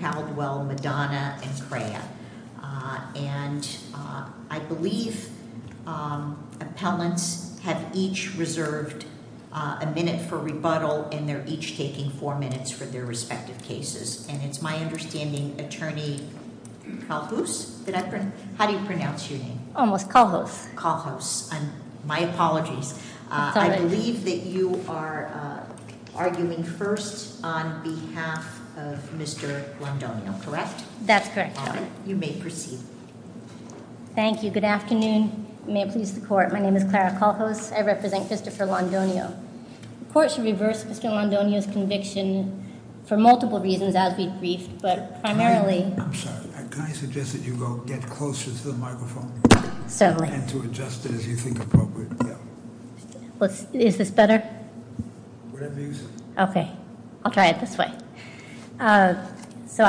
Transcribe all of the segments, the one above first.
Caldwell, Madonna and Craya. I believe appellants have each reserved a minute for rebuttal and they're each taking 4 minutes for their respective cases. It's my understanding Attorney Calhouse, how do you pronounce your name? Almost, Calhouse. Calhouse, my apologies. I believe that you are arguing first on behalf of Mr. Londonio, correct? That's correct. You may proceed. Thank you. Good afternoon. May it please the court, my name is Clara Calhouse. I represent Mr. Phil Londonio. The court should reverse Mr. Londonio's conviction for multiple reasons as he agrees, but primarily... I'm sorry, can I suggest that you go get closer to the microphone and to adjust it as you think appropriate. Is this better? Okay, I'll try it this way. So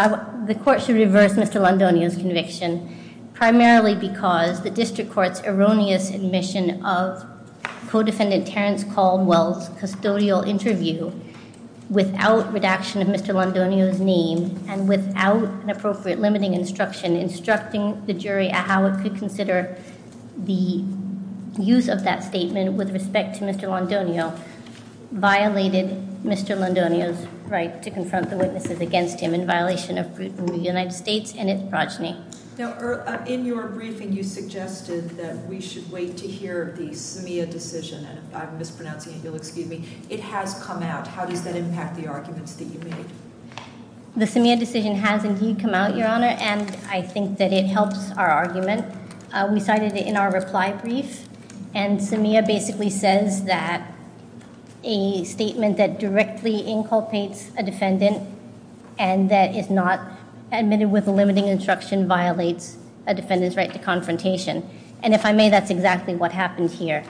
the court should reverse Mr. Londonio's conviction primarily because the district court's erroneous admission of co-defendant Terrence Caldwell's custodial interview without redaction of Mr. Londonio's name and without an appropriate limiting instruction instructing the jury at how it could consider the use of that statement with respect to Mr. Londonio violated Mr. Londonio's right to confront the witnesses against him in violation of the United States and its progeny. Now, in your briefing you suggested that we should wait to hear the SAMEA decision and if I'm mispronouncing, you'll excuse me. It has come out. How does that impact the arguments that you made? The SAMEA decision has indeed come out, and I think that it helps our argument. We cited it in our reply brief, and SAMEA basically says that a statement that directly inculpates a defendant and that is not admitted with a limiting instruction violates a defendant's right to confrontation. And if I may, that's exactly what happened here.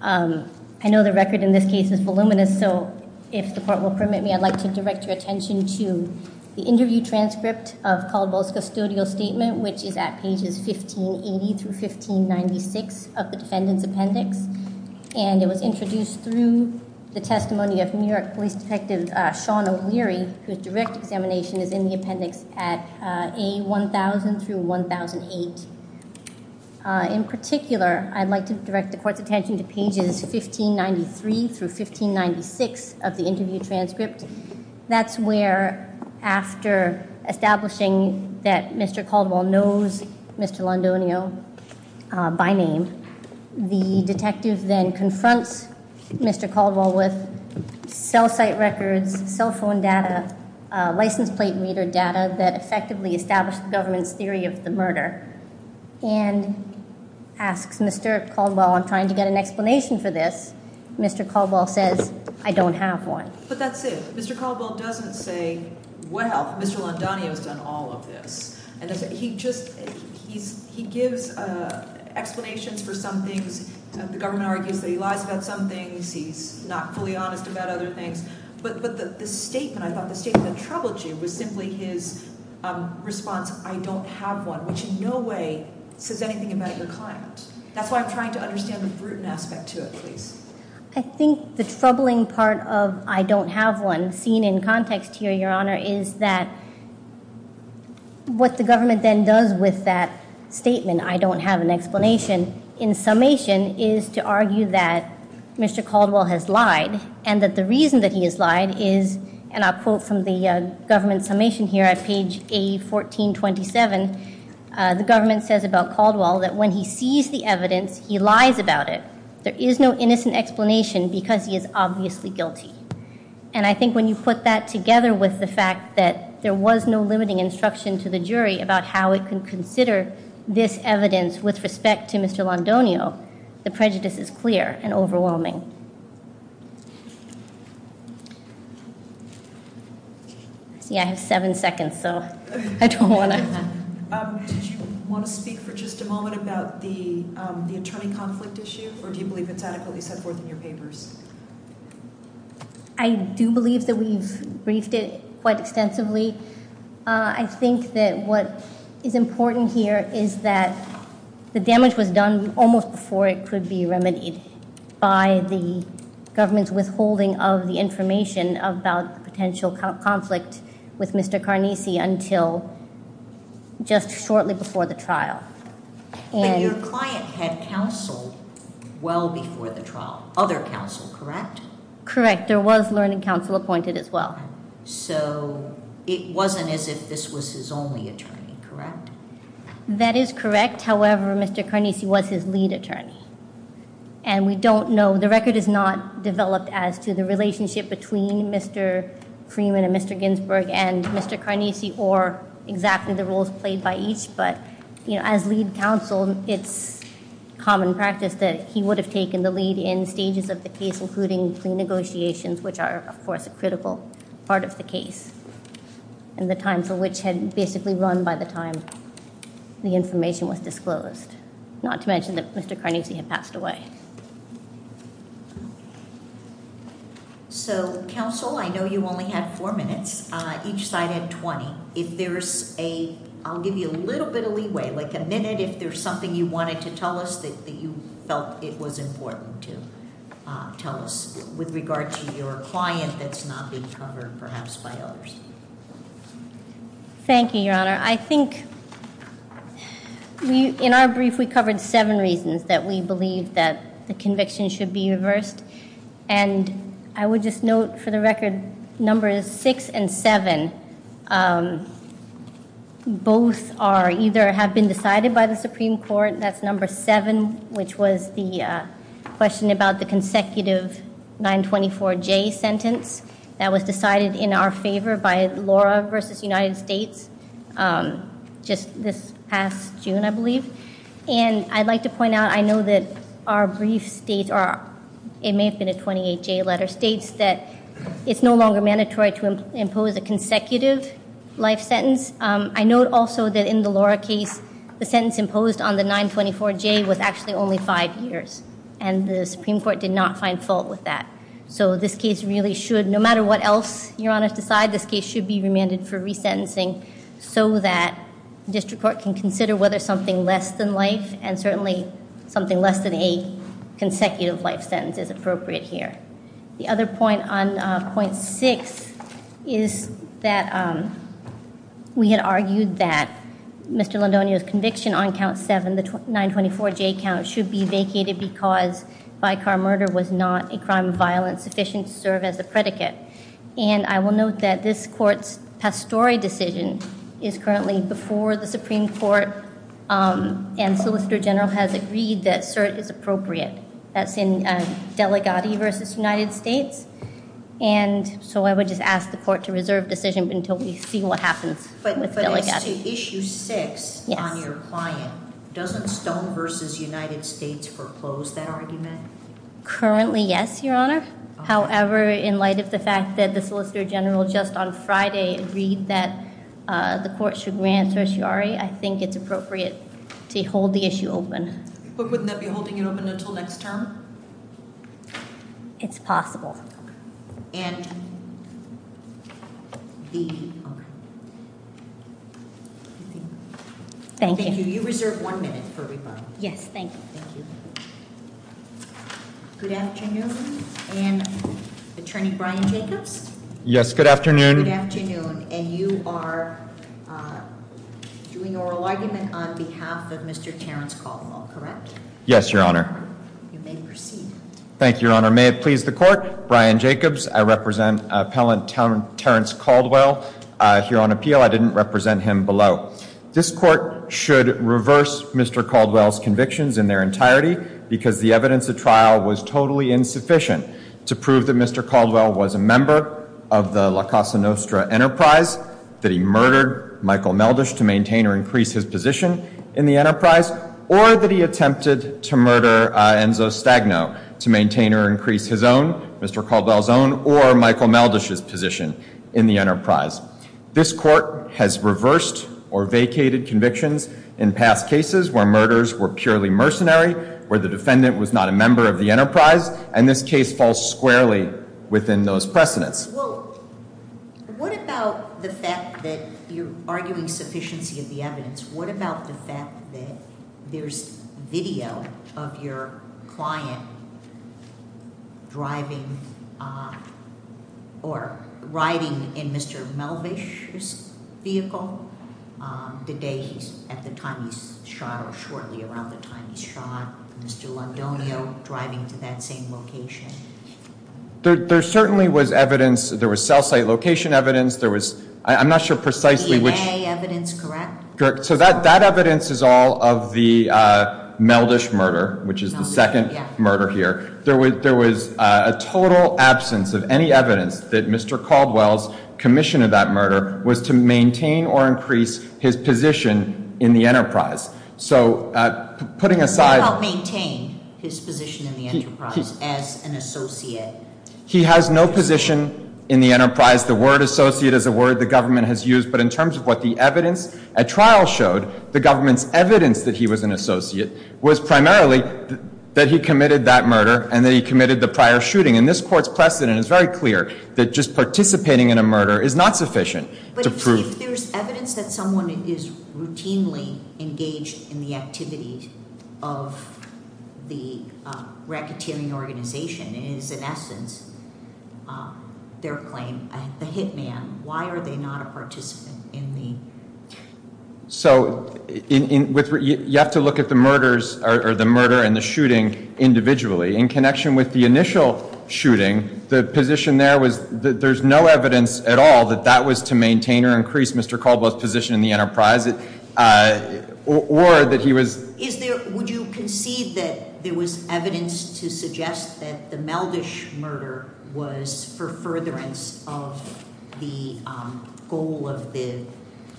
I know the record in this case is voluminous, so if the court will permit me, I'd like to direct your attention to the interview transcript of Caldwell's custodial statement, which is at pages 1580 through 1596 of the defendant's appendix, and it was introduced through the testimony of New York Police Detective Sean O'Leary, whose direct examination is in the appendix at A1000 through 1008. In particular, I'd like to direct the court's attention to pages 1593 through 1596 of the interview transcript. That's where, after establishing that Mr. Caldwell knows Mr. Londonio by name, the detective then confronts Mr. Caldwell with cell site records, cell phone data, license plate reader data that effectively establishes the government's theory of the murder, and asks Mr. Caldwell, I'm trying to get an explanation for this. Mr. Caldwell says, I don't have one. But that's it. Mr. Caldwell doesn't say, well, Mr. Londonio's done all of this. He just, he gives explanations for some things, the government argues that he lies about some things, he's not fully honest about other things, but the statement, I thought the statement troubled you, was simply his response, I don't have one, which in no way says anything about your client. That's why I'm trying to understand the scrutiny aspect to it, please. I think the troubling part of, I don't have one, seen in context here, Your Honor, is that what the government then does with that statement, I don't have an explanation, in summation, is to argue that Mr. Caldwell has lied, and that the reason that he has lied is, and I'll quote from the government summation here at page A1427, the government says about Caldwell that when he sees the evidence, he lies about it. There is no innocent explanation because he is obviously guilty. And I think when you put that together with the fact that there was no limiting instruction to the jury about how it can consider this evidence with respect to Mr. Londonio, the prejudice is clear and overwhelming. Yeah, I have seven seconds, so I don't want to... Do you want to speak for just a moment about the attorney conflict issue, or do you believe the faculty has worked on your papers? I do believe that we've briefed it quite extensively. I think that what is important here is that the damage was done almost before it could be remedied by the government's withholding of the information about potential conflict with Mr. Carnese until just shortly before the trial. But your client had counsel well before the trial, other counsel, correct? Correct. There was learning counsel appointed as well. So it wasn't as if this was his only attorney, correct? That is correct. However, Mr. Carnese was his lead attorney, and we don't know, the record is not developed as to the relationship between Mr. Freeman and Mr. Ginsburg and Mr. Carnese or exactly the roles played by each, but as lead counsel, it's common practice that he would have taken the lead in stages of the case, including some negotiations, which are, of course, a critical part of the case, and the time for which had basically run by the time the information was disclosed, not to mention that Mr. Carnese had passed away. So, counsel, I know you only have four minutes. Each side had 20. If there's a, I'll give you a little bit of leeway, like a minute if there's something you wanted to tell us that you felt it was important to tell us with regard to your client that's not being covered perhaps by others. Thank you, Your Honor. I think in our brief we covered seven reasons that we believe that conviction should be reversed, and I would just note for the record, numbers six and seven, both are either have been decided by the Supreme Court, that's number seven, which was the question about the consecutive 924J sentence that was decided in our favor by Laura versus United States just this past June, I believe, and I'd like to point out, I know that our brief states, or it may have been a 28J letter, states that it's no longer mandatory to impose a consecutive life sentence. I note also that in the Laura case, the sentence imposed on the 924J was actually only five years, and the Supreme Court did not find fault with that. So, this case really should, no matter what else Your Honor's decide, this case should be remanded for resentencing so that district court can consider whether something less than life, and certainly something less than a consecutive life sentence is appropriate here. The other point on point six is that we had argued that Mr. Londonio's conviction on count seven, the 924J count, should be vacated because by car murder was not a crime of violence sufficient to serve as a predicate, and I will note that this court's pastore decision is currently before the solicitor general has agreed that cert is appropriate. That's in Delegati versus United States, and so I would just ask the court to reserve decision until we see what happens. But to issue six on your client, doesn't Stone versus United States foreclose that argument? Currently, yes, Your Honor. However, in light of the fact that the solicitor general just on open. But wouldn't that be holding it open until next term? It's possible. And the... Thank you. You reserve one minute for rebuttal. Yes, thank you. Good afternoon, and Attorney Brian Jacobs? Yes, good afternoon. Good afternoon, and you are doing oral argument on behalf of Mr. Terrence Caldwell, correct? Yes, Your Honor. You may proceed. Thank you, Your Honor. May it please the court, Brian Jacobs. I represent appellant Terrence Caldwell here on appeal. I didn't represent him below. This court should reverse Mr. Caldwell's convictions in their entirety because the evidence of trial was totally insufficient to prove that Mr. Caldwell was a member of the La Casa Nostra enterprise, that he murdered Michael Meldish to maintain or increase his position in the enterprise, or that he attempted to murder Enzo Stagno to maintain or increase his own, Mr. Caldwell's own, or Michael Meldish's position in the enterprise. This court has reversed or vacated convictions in past cases where murders were purely mercenary, where the defendant was not a member of the enterprise, and this case falls squarely within those precedents. Well, what about the fact that you're arguing sufficiency of the evidence? What about the fact that there's video of your client driving or riding in Mr. Meldish's vehicle the day, at the time he shot, or shortly around the time he shot Mr. Londonio driving to that location? There certainly was evidence. There was cell site location evidence. There was, I'm not sure precisely which... DNA evidence, correct? Correct. So that evidence is all of the Meldish murder, which is the second murder here. There was a total absence of any evidence that Mr. Caldwell's commission of that murder was to maintain or increase his position in the enterprise. So putting aside... How about maintain his position in the enterprise as an associate? He has no position in the enterprise. The word associate is a word the government has used, but in terms of what the evidence at trial showed, the government's evidence that he was an associate was primarily that he committed that murder and that he committed the prior shooting. And this court's precedent is very clear that just participating in a murder is not sufficient. But if there's evidence that someone is routinely engaged in the activities of the racketeering organization, and it's in essence their claim as the hitman, why are they not a participant in the... So you have to look at the murders, or the murder and the shooting individually. In connection with the initial shooting, the position there was there's no evidence at all that that was to maintain or increase Mr. Caldwell's position in the enterprise, or that he was... Would you concede that there was evidence to suggest that the Meldish murder was for furtherance of the goal of the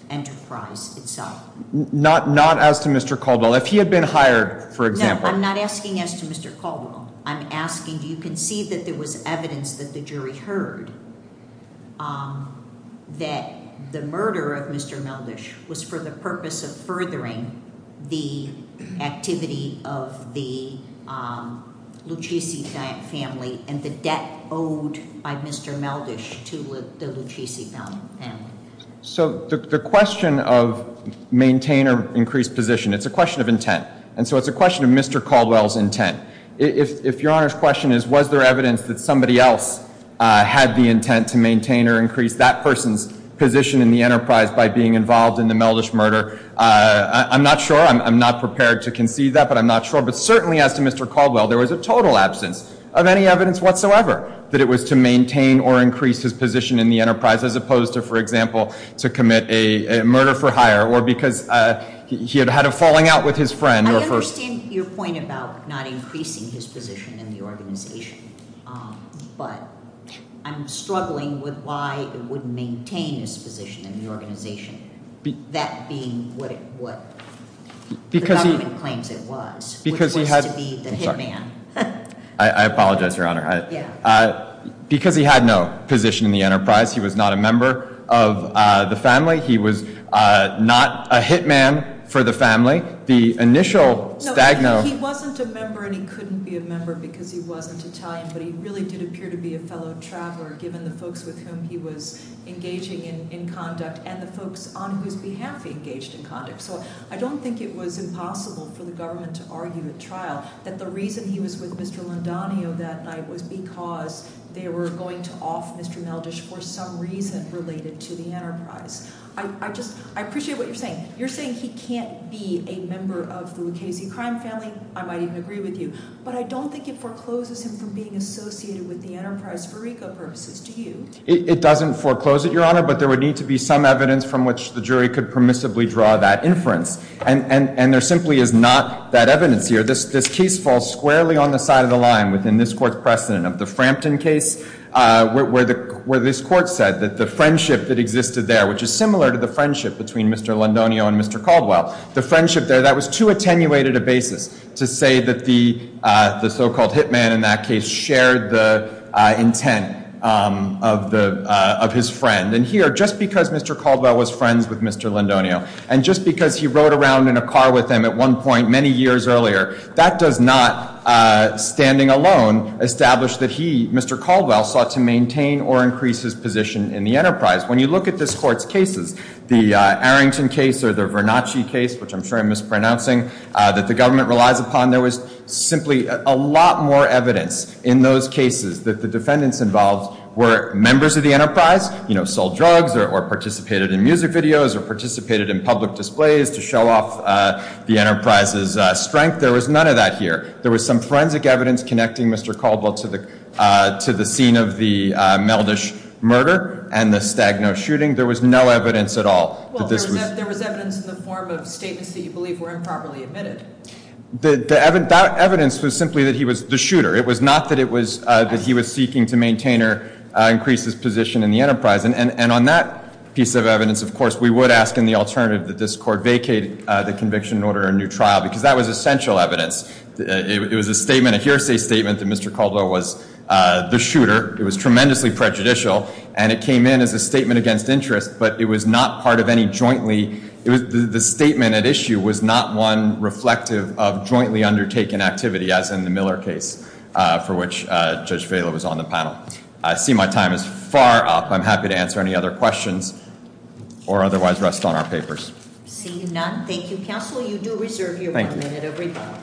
enterprise itself? Not as to Mr. Caldwell. If he had been hired, for example. No, I'm not asking as to Mr. Caldwell. I'm asking, do you concede that there was evidence that the jury heard that the murder of Mr. Meldish was for the purpose of furthering the activity of the Lucchese family and the debt owed by Mr. Meldish to the Lucchese family? So the question of maintain or increase position, it's a question of intent. And so it's a question of Mr. Caldwell's intent. If Your Honor's question is, was there evidence that somebody else had the intent to maintain or increase that person's position in the enterprise by being involved in the Meldish murder, I'm not sure. I'm not prepared to concede that, but I'm not sure. But certainly, as to Mr. Caldwell, there was a total absence of any evidence whatsoever that it was to maintain or increase his position in the enterprise, as opposed to, for example, to commit a murder for hire, or because he had had a falling out with his friend. I understand your point about not increasing his position in the organization, but I'm struggling with why it wouldn't maintain his position in the organization, that being what the government claims it was, which was to be the hitman. I apologize, Your Honor. Because he had no position in the enterprise, he was not a member of the family. He was not a hitman for the family. The initial diagnose— No, he wasn't a member and he couldn't be a member because he wasn't Italian, but he really did appear to be a fellow trapper, given the folks with whom he was engaging in conduct and the folks on whose behalf he engaged in conduct. So I don't think it was impossible for the government to argue at trial that the reason he was with Mr. Londanio that night was because they were going to off Mr. Meldish for some reason related to the enterprise. I appreciate what you're saying. You're saying he can't be a member of the Lucchese crime family, I might even agree with you, but I don't think it forecloses him from being associated with the enterprise, Eureka, versus to you. It doesn't foreclose it, Your Honor, but there would need to be some evidence from which the jury could permissibly draw that inference. And there simply is not that evidence here. This case falls squarely on the side of the line within this court's precedent of the Frampton case, where this court said that the friendship that existed there, which is similar to the friendship between Mr. Londanio and Mr. Caldwell, the friendship there, that was too attenuated a basis to say that the so-called hitman in that case shared the intent of his friend. And here, just because Mr. Caldwell was friends with Mr. Londanio, and just because he rode around in a car with him at one point many years earlier, that does not, standing alone, establish that he, Mr. Caldwell, sought to maintain or increase his position in the enterprise. When you look at this court's cases, the Arrington case or the Vernacci case, which I'm sure I'm mispronouncing, that the government relies upon, there was simply a lot more evidence in those cases that the defendants involved were members of the enterprise, you know, sold drugs or participated in music videos or participated in public displays to show off the enterprise's strength. There was none of that here. There was some forensic evidence connecting Mr. Caldwell to the scene of the Meldish murder and the Stagno shooting. There was no evidence at all that this was… Well, there was evidence in the form of statements that you believe were improperly admitted. The evidence was simply that he was the shooter. It was not that he was seeking to maintain or increase his position in the enterprise. And on that piece of evidence, of course, we would ask in the alternative that this court vacate the conviction, order a new trial, because that was essential evidence. It was a statement, a hearsay statement, that Mr. Caldwell was the shooter. It was tremendously prejudicial, and it came in as a statement against interest, but it was not part of any jointly… The statement at issue was not one reflective of jointly undertaken activity, as in the Miller case, for which Judge Vailo was on the panel. I see my time is far up. I'm happy to answer any other questions or otherwise rest on our papers. I do not. Thank you, counsel. You do reserve your one minute, everybody.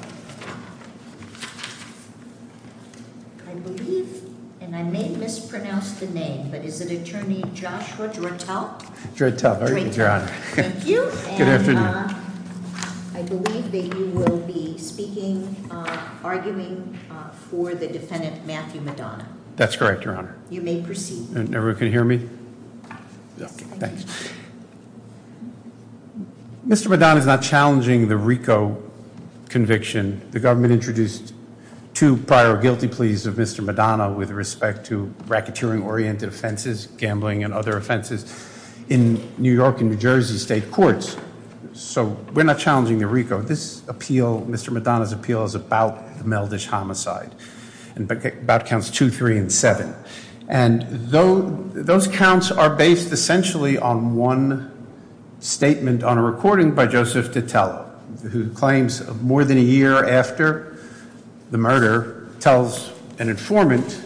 I believe, and I may mispronounce the name, but is it Attorney Joshua Gertaut? Gertaut. How are you, Your Honor? Thank you. And I believe that you will be speaking, arguing for the defendant, Matthew Madonna. That's correct, Your Honor. You may proceed. Everyone can hear me? Mr. Madonna is not challenging the RICO conviction. The government introduced two prior guilty pleas of Mr. Madonna with respect to racketeering-oriented offenses, gambling and other offenses, in New York and New Jersey state courts. So we're not challenging the RICO. This appeal, Mr. Madonna's appeal, is about those counts are based essentially on one statement on a recording by Joseph Tatella, who claims more than a year after the murder tells an informant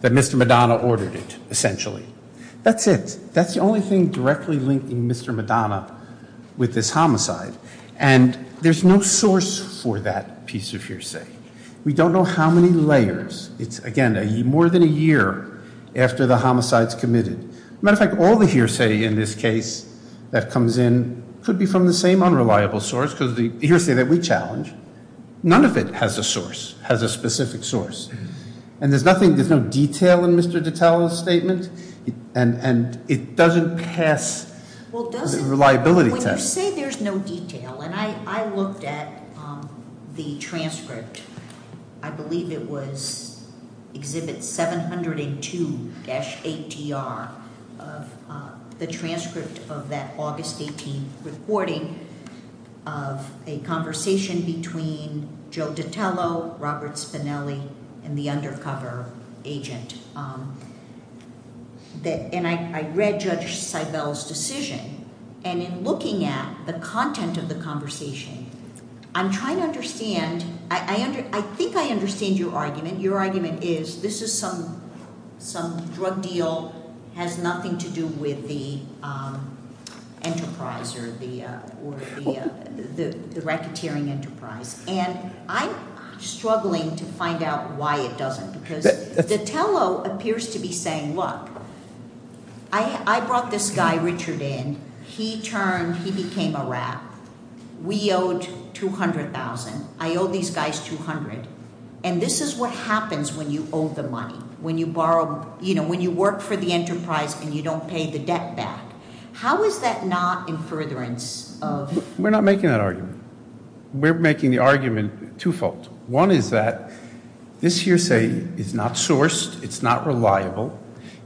that Mr. Madonna ordered it, essentially. That's it. That's the only thing directly linking Mr. Madonna with this homicide. And there's no source for that piece of hearsay. We don't know how many layers. It's, again, more than a year after the homicide's committed. As a matter of fact, all the hearsay in this case that comes in could be from the same unreliable source, because the hearsay that we challenge, none of it has a source, has a specific source. And there's nothing, there's no detail in Mr. Tatella's statement, and it doesn't pass the reliability test. To say there's no detail, and I looked at the transcript, I believe it was Exhibit 702-ATR, the transcript of that August 18th recording of a conversation between Joe Tatella, Robert Spinelli, and the undercover agent. And I read Judge Seibel's decision, and in looking at the content of the conversation, I'm trying to understand, I think I understand your argument. Your argument is this is some drug deal, has nothing to do with the enterprise or the enterprise. And I'm struggling to find out why it doesn't. Because Tatella appears to be saying, look, I brought this guy Richard in, he turned, he became a rat. We owed $200,000. I owe these guys $200,000. And this is what happens when you owe the money, when you borrow, you know, when you work for the enterprise and you don't pay the debt back. How is that not in furtherance of? We're not making that argument. We're making the argument twofold. One is that this hearsay is not sourced. It's not reliable.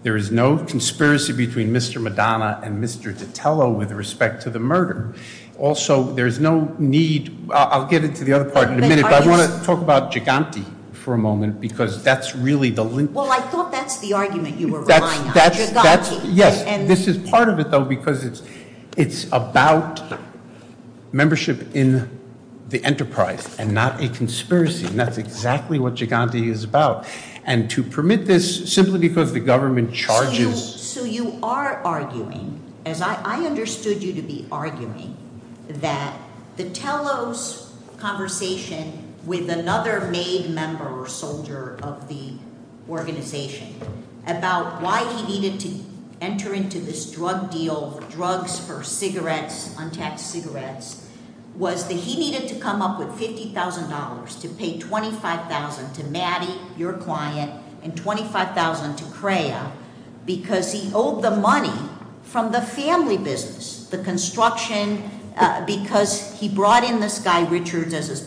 There is no conspiracy between Mr. Madonna and Mr. Tatella with respect to the murder. Also, there's no need, I'll get into the other part in a minute, but I want to talk about Giganti for a moment, because that's really the link. Well, I thought that's the argument you were relying on, Giganti. Yes, this is part of it though, because it's about membership in the enterprise and not a conspiracy. And that's exactly what Giganti is about. And to permit this simply because the government charges... So you are arguing, as I understood you to be arguing, that Tatella's with another main member or soldier of the organization about why he needed to enter into this drug deal, drugs for cigarettes, untaxed cigarettes, was that he needed to come up with $50,000 to pay $25,000 to Maddie, your client, and $25,000 to CREA because he owed the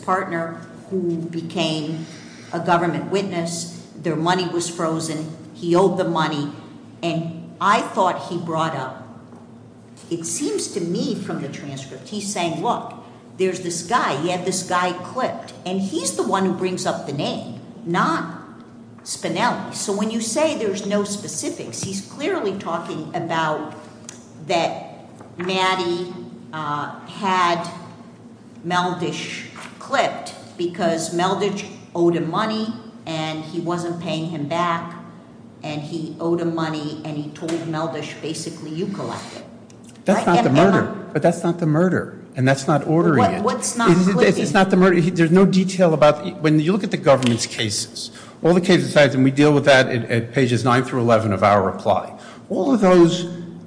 partner who became a government witness, their money was frozen, he owed the money. And I thought he brought up, it seems to me from the transcript, he's saying, look, there's this guy, he had this guy clipped, and he's the one who brings up the name, not Spinelli. So when you say there's no about that Maddie had Meldish clipped because Meldish owed him money and he wasn't paying him back and he owed him money and he told Meldish, basically, you collect it. That's not the murder. But that's not the murder. And that's not ordering it. It's just not the murder. There's no detail about when you look at the government's cases, all the cases, and we deal with that at pages 9 through 11 of our reply. All of those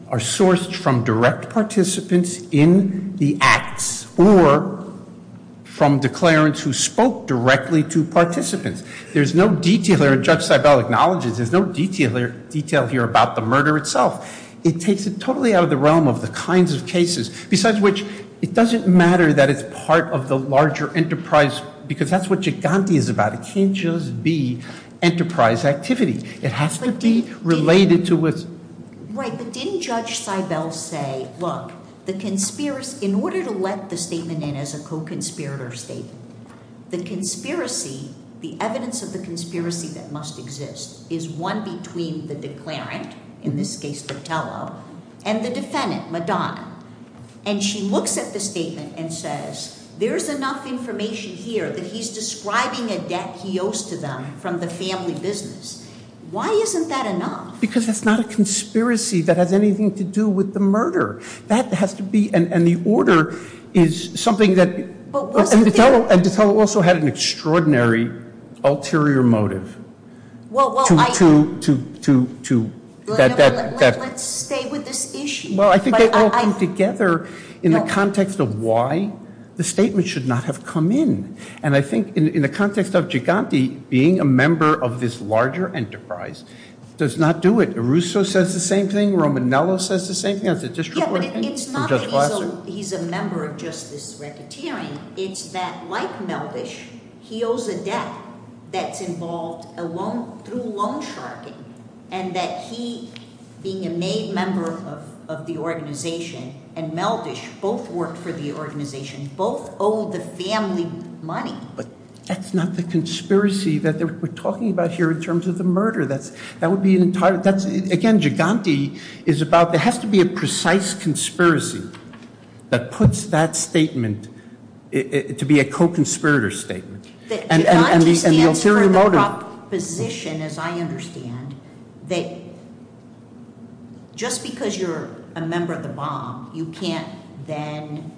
are sourced from direct participants in the acts or from declarants who spoke directly to participants. There's no detail here about the murder itself. It takes it totally out of the realm of the kinds of cases, besides which, it doesn't matter that it's part of the larger enterprise because that's what Giganti is about. It can't just be activity. It has to be related to what's... Right, but didn't Judge Seibel say, look, the conspiracy, in order to let the statement in as a co-conspirator statement, the conspiracy, the evidence of the conspiracy that must exist is one between the declarant, in this case Botello, and the defendant, Madonna. And she looks at the statement and says, there's enough information here that he's describing a debt he owes to them from the family business. Why isn't that enough? Because it's not a conspiracy that has anything to do with the murder. That has to be... And the order is something that... And Botello also had an extraordinary ulterior motive. Well, I think they all came together in the context of why the statement should not have come in. And I think in the context of Giganti, being a member of this larger enterprise does not do it. Russo says the same thing. Romanello says the same thing. That's a disreportion. It's not that he's a member of just this reputation. It's that, like Melvish, he owes a debt that's involved through loan sharking, and that he, being a named member of the organization, and Melvish both work for the organization, both owe the family money. But that's not the conspiracy that we're talking about here in terms of the murder. That would be entirely... Again, Giganti is about... There has to be a precise conspiracy that puts that statement to be a co-conspirator statement. And the ulterior motive... I understand your position, as I understand, that just because you're a member of the bomb, you can't then,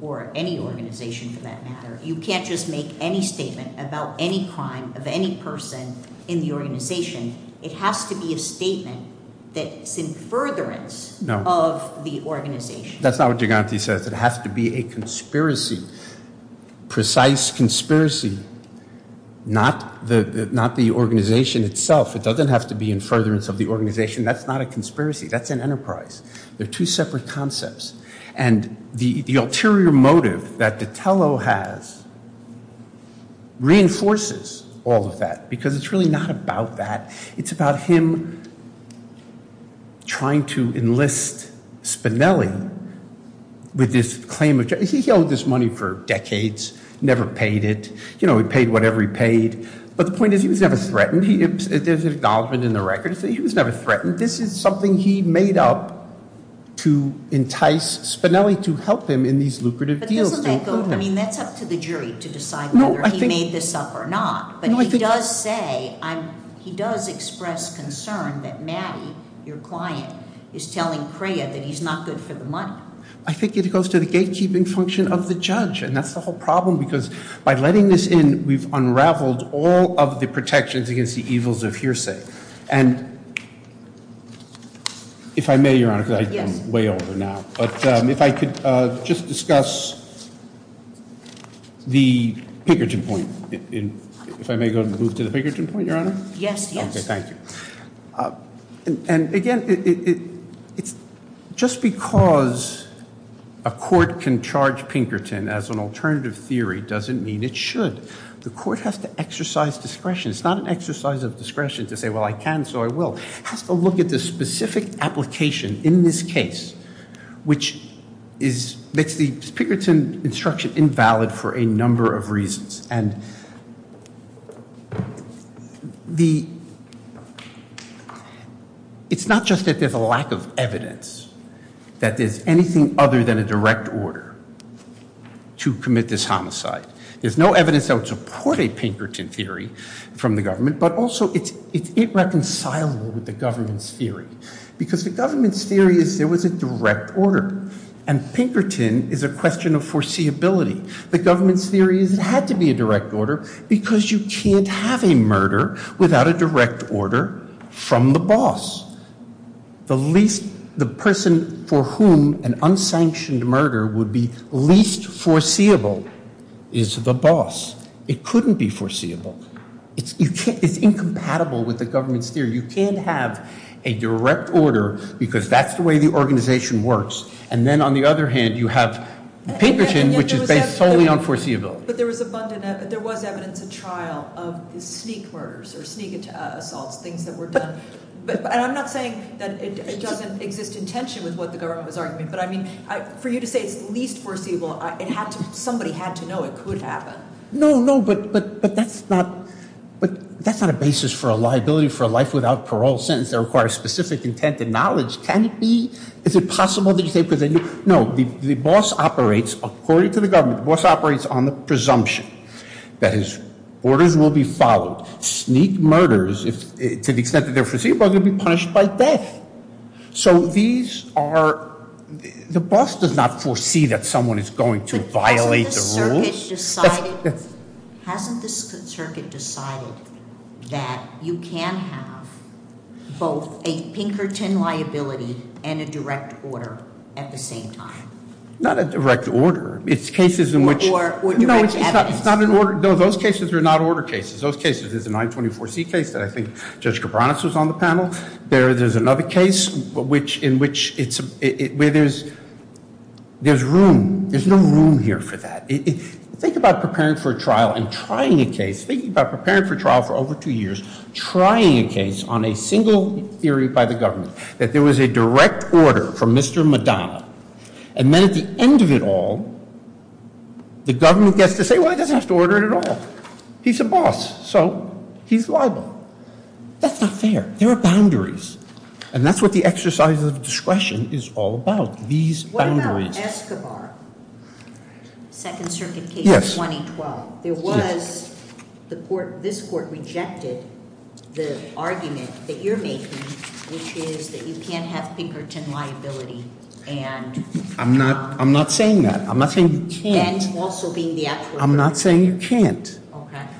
or any organization for that matter, you can't just make any statement about any crime of any person in the organization. It has to be a statement that's in furtherance of the organization. That's not what Giganti says. It has to be a conspiracy, precise conspiracy, not the organization itself. It doesn't have to be in furtherance of the organization. That's not a conspiracy. That's an enterprise. They're two separate concepts. And the ulterior motive that the Tello has reinforces all of that, because it's really not about that. It's about him trying to enlist Spinelli with this claim of... He held this money for decades, never paid it. He paid whatever he paid. But the point is, he was never threatened. There's an acknowledgment in the records that he was never threatened. This is something he made up to entice Spinelli to help him in these lucrative deals. But this is what they thought. And he met up to the jury to decide whether he made this up or not. But he does say, he does express concern that Mattie, your client, is telling Crea that he's not good for the money. I think it goes to the gatekeeping function of the judge. And that's the whole problem, because by letting this in, we've unraveled all of the protections against the evils of hearsay. And if I may, Your Honor, because I'm way over now, but if I could just discuss the Pinkerton point. If I may go ahead and move to the Pinkerton point, Your Honor? Yes, yes. Okay, thank you. And again, it's just because a court can charge Pinkerton as an alternative theory doesn't mean it should. The court has to exercise discretion. It's not an exercise of discretion to say, well, I can, so I will. It has to look at the specific application in this case, which makes the Pinkerton instruction invalid for a number of reasons. And it's not just that there's a lack of evidence that there's anything other than a direct order to commit this homicide. There's no evidence that would support a Pinkerton theory from the government, but also it's irreconcilable with the government's theory. Because the government's theory is there was a direct order, and Pinkerton is a question of foreseeability. The government's theory had to be a direct order because you can't have a murder without a direct order from the boss. The person for whom an unsanctioned murder would be least foreseeable is the boss. It couldn't be foreseeable. It's incompatible with the direct order because that's the way the organization works. And then on the other hand, you have Pinkerton, which is based solely on foreseeable. But there was evidence in trial of sneak murders or sneak assaults, things that were done. And I'm not saying that it doesn't exist in tension with what the government was arguing, but I mean, for you to say least foreseeable, somebody had to know it could happen. No, no, but that's not a basis for a liability for a life without parole sentence that requires specific intent and knowledge. Can it be? Is it possible? No, the boss operates, according to the government, the boss operates on the presumption. That is, orders will be followed. Sneak murders, to the extent that they're foreseeable, will be punished by death. So these are, the boss does not foresee that someone is going to violate the rules. Hasn't the circuit decided that you can have both a Pinkerton liability and a direct order at the same time? Not a direct order. It's cases in which... Those cases are not order cases. Those cases is the 924C case that I think Judge Cabranes was on the panel. There's another case in which there's room, there's no room here for that. Think about preparing for a trial and trying a case, thinking about preparing for trial for over two years, trying a case on a single hearing by the government, that there was a direct order from Mr. Madonna, and then at the end of it all, the government gets to say, well, that has to order it at all. He's a boss, so he's liable. That's not fair. There are boundaries, and that's what the exercise of discretion is all about, these boundaries. What about Escobar, second circuit case 2012? There was, this court rejected the argument that you're making, which is that you can't have Pinkerton liability, and... I'm not saying that. I'm not saying you can't. I'm not saying you can't.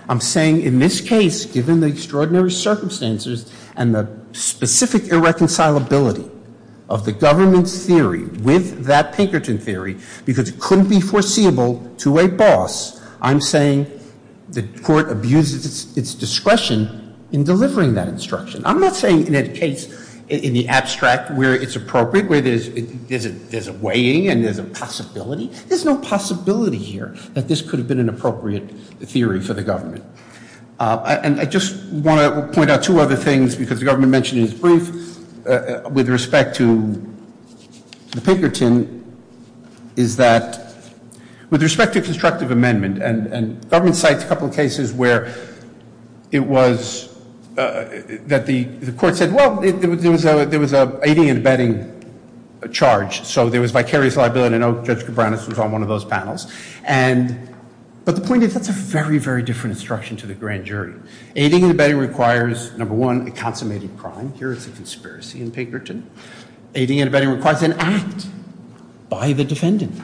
I'm saying in this case, given the extraordinary circumstances and the specific irreconcilability of the government's theory with that Pinkerton theory, because it couldn't be foreseeable to a boss, I'm saying the court abuses its discretion in delivering that instruction. I'm not saying in that case, in the abstract where it's appropriate, where there's a weighing and there's a possibility. There's no possibility here that this could have been an appropriate theory for the government. And I just want to point out two other things, because the government mentioned in his brief with respect to Pinkerton, is that with respect to constructive amendment, and government cited a couple of cases where it was, that the court said, well, there was a aiding and abetting charge. So there was vicarious liability, and I know Judge Cabranes was on one of jury. Aiding and abetting requires, number one, a consummated crime. Here's a conspiracy in Pinkerton. Aiding and abetting requires an act by the defendant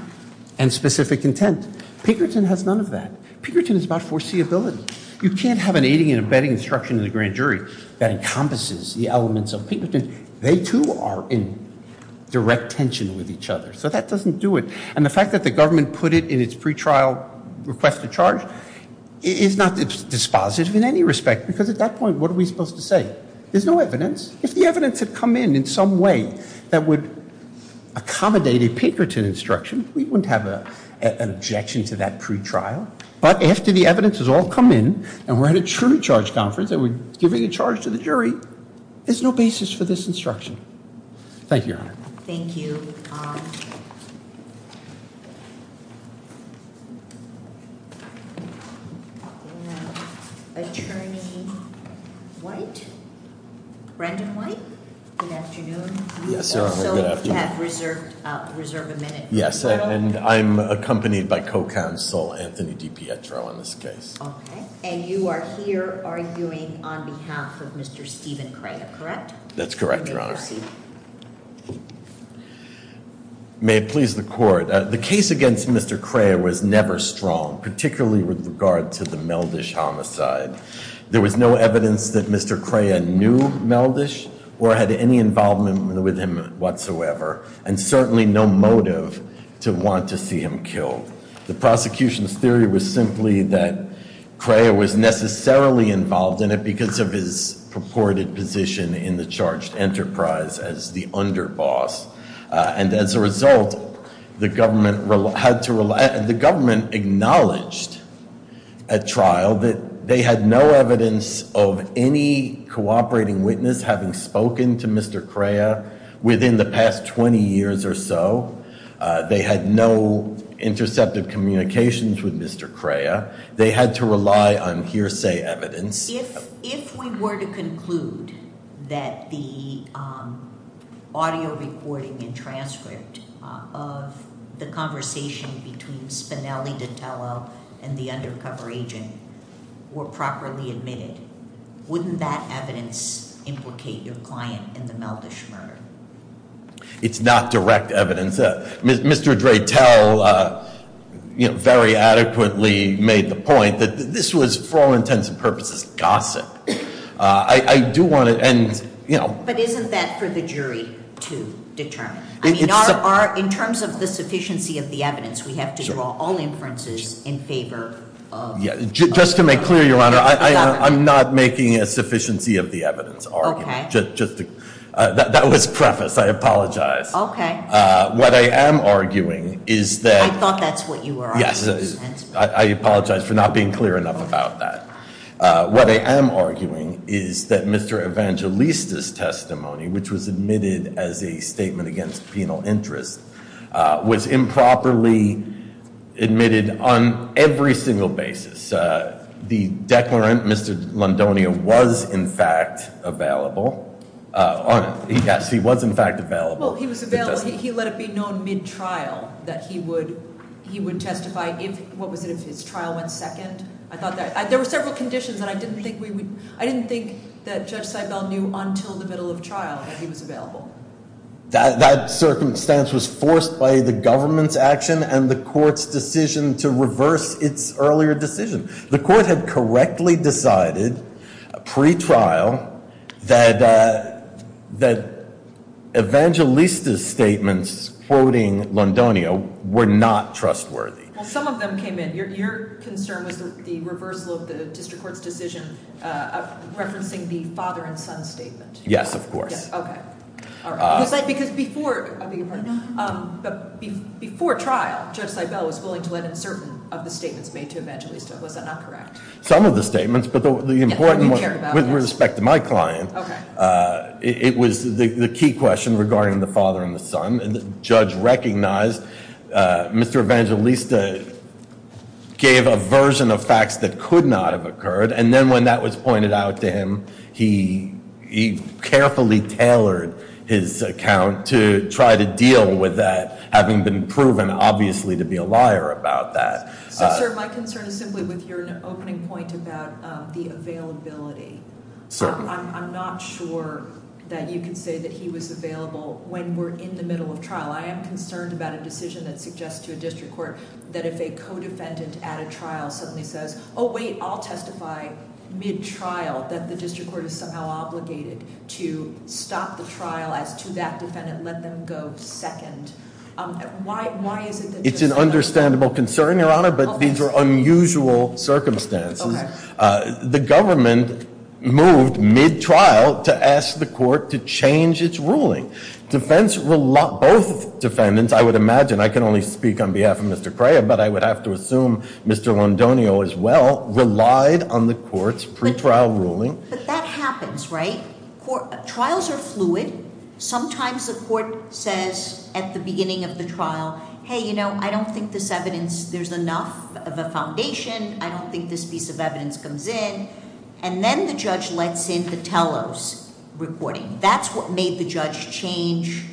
and specific intent. Pinkerton has none of that. Pinkerton is about foreseeability. You can't have an aiding and abetting instruction of the grand jury that encompasses the elements of Pinkerton. They, too, are in direct tension with each other. So that doesn't do it. And the fact that the dispositive in any respect, because at that point, what are we supposed to say? There's no evidence. If the evidence had come in in some way that would accommodate a Pinkerton instruction, we wouldn't have an objection to that true trial. But after the evidence has all come in, and we're at a true charge conference that we're giving a charge to the jury, there's no basis for this instruction. Thank you. Thank you. Attorney White? Brendan White? Good afternoon. Yes, and I'm accompanied by co-counsel, Anthony DiPietro, in this case. Okay. And you are here arguing on behalf of Mr. Stephen Crea, correct? That's correct, Your Honor. May it please the Court. The case against Mr. Crea was never strong, particularly with regard to the Meldish homicide. There was no evidence that Mr. Crea knew Meldish or had any involvement with him whatsoever, and certainly no motive to want to see him killed. The prosecution's theory was simply that Crea was necessarily involved in it because of his purported position in the charged enterprise as the underboss. And as a result, the government acknowledged at trial that they had no evidence of any cooperating witness having spoken to Mr. Crea within the past 20 years or so. They had no intercepted communications with Mr. Crea. They had to rely on hearsay evidence. If we were to conclude that the audio recording and transcript of the conversation between Spinelli di Tello and the undercover agent were properly admitted, wouldn't that evidence implicate your client in the Meldish murder? It's not direct evidence. Mr. Dre Tell very adequately made the point that this was, for all intents and purposes, gossip. I do want to... Isn't that for the jury to determine? In terms of the sufficiency of the evidence, we have to draw all inferences in favor of... Just to make clear, Your Honor, I'm not making a sufficiency of the evidence argument. That was preface. I apologize. What I am arguing is that... I thought that's what you were arguing. Yes, I apologize for not being clear enough about that. What I am arguing is that Mr. Evangelista's testimony, which was admitted as a statement against penal interest, was improperly admitted on every single basis. The declarant, Mr. Londonia, was, in fact, available. Yes, he was, in fact, available. Well, he was available. He let it be known mid-trial that he would testify if... What was there? There were several conditions that I didn't think we would... I didn't think that Judge Seibel knew until the middle of trial that he was available. That circumstance was forced by the government's action and the court's decision to reverse its earlier decision. The court had correctly decided pre-trial that Evangelista's statements, quoting Londonia, were not trustworthy. Well, some of them came in. Your concern was the reversal of the district court's decision referencing the father and son statements. Yes, of course. Yes, okay. Before trial, Judge Seibel was willing to let in certain of the statements made to Evangelista. Was that not correct? Some of the statements, but the important one, with respect to my client, it was the key question regarding the father and the son. Judge recognized Mr. Evangelista gave a version of facts that could not have occurred, and then when that was pointed out to him, he carefully tailored his account to try to deal with that, having been proven, obviously, to be a liar about that. Sir, my concern is simply with your opening point about the availability. I'm not sure that you could say that he was available when we're in the middle of trial. I am concerned about a decision that suggests to a district court that if a co-defendant at a trial suddenly says, oh wait, I'll testify mid-trial that the district court is somehow obligated to stop the trial to that defendant and let them go second. It's an understandable concern, Your Honor, but these are unusual circumstances. The government moved mid-trial to ask the court to change its ruling. Both defendants, I would imagine, I can only speak on behalf of Mr. Cray, but I would have to assume Mr. Londonio as well, relied on the court's pre-trial ruling. But that happens, right? Trials are fluid. Sometimes the court says at the beginning of the trial, hey, you know, I don't think this evidence, there's enough of a foundation, I don't think this piece of evidence comes in, and then the judge lets in Titello's reporting. That's what made the judge change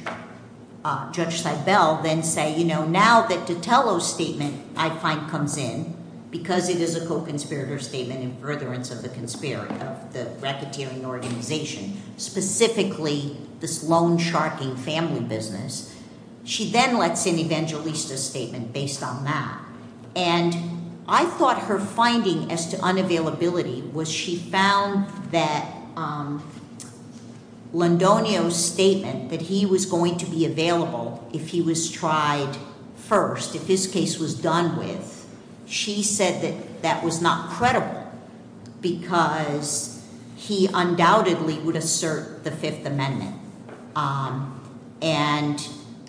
Judge Seibel, then say, you know, now that Titello's statement, I find, comes in, because it is a co-conspirator statement in furtherance of the conspiracy of the reciprocal organization, specifically this sharking family business. She then lets in Evangelista's statement based on that. And I thought her finding as to unavailability was she found that Londonio's statement that he was going to be available if he was tried first, if this case was done with, she said that that was not credible, because he undoubtedly would assert the Fifth Amendment. And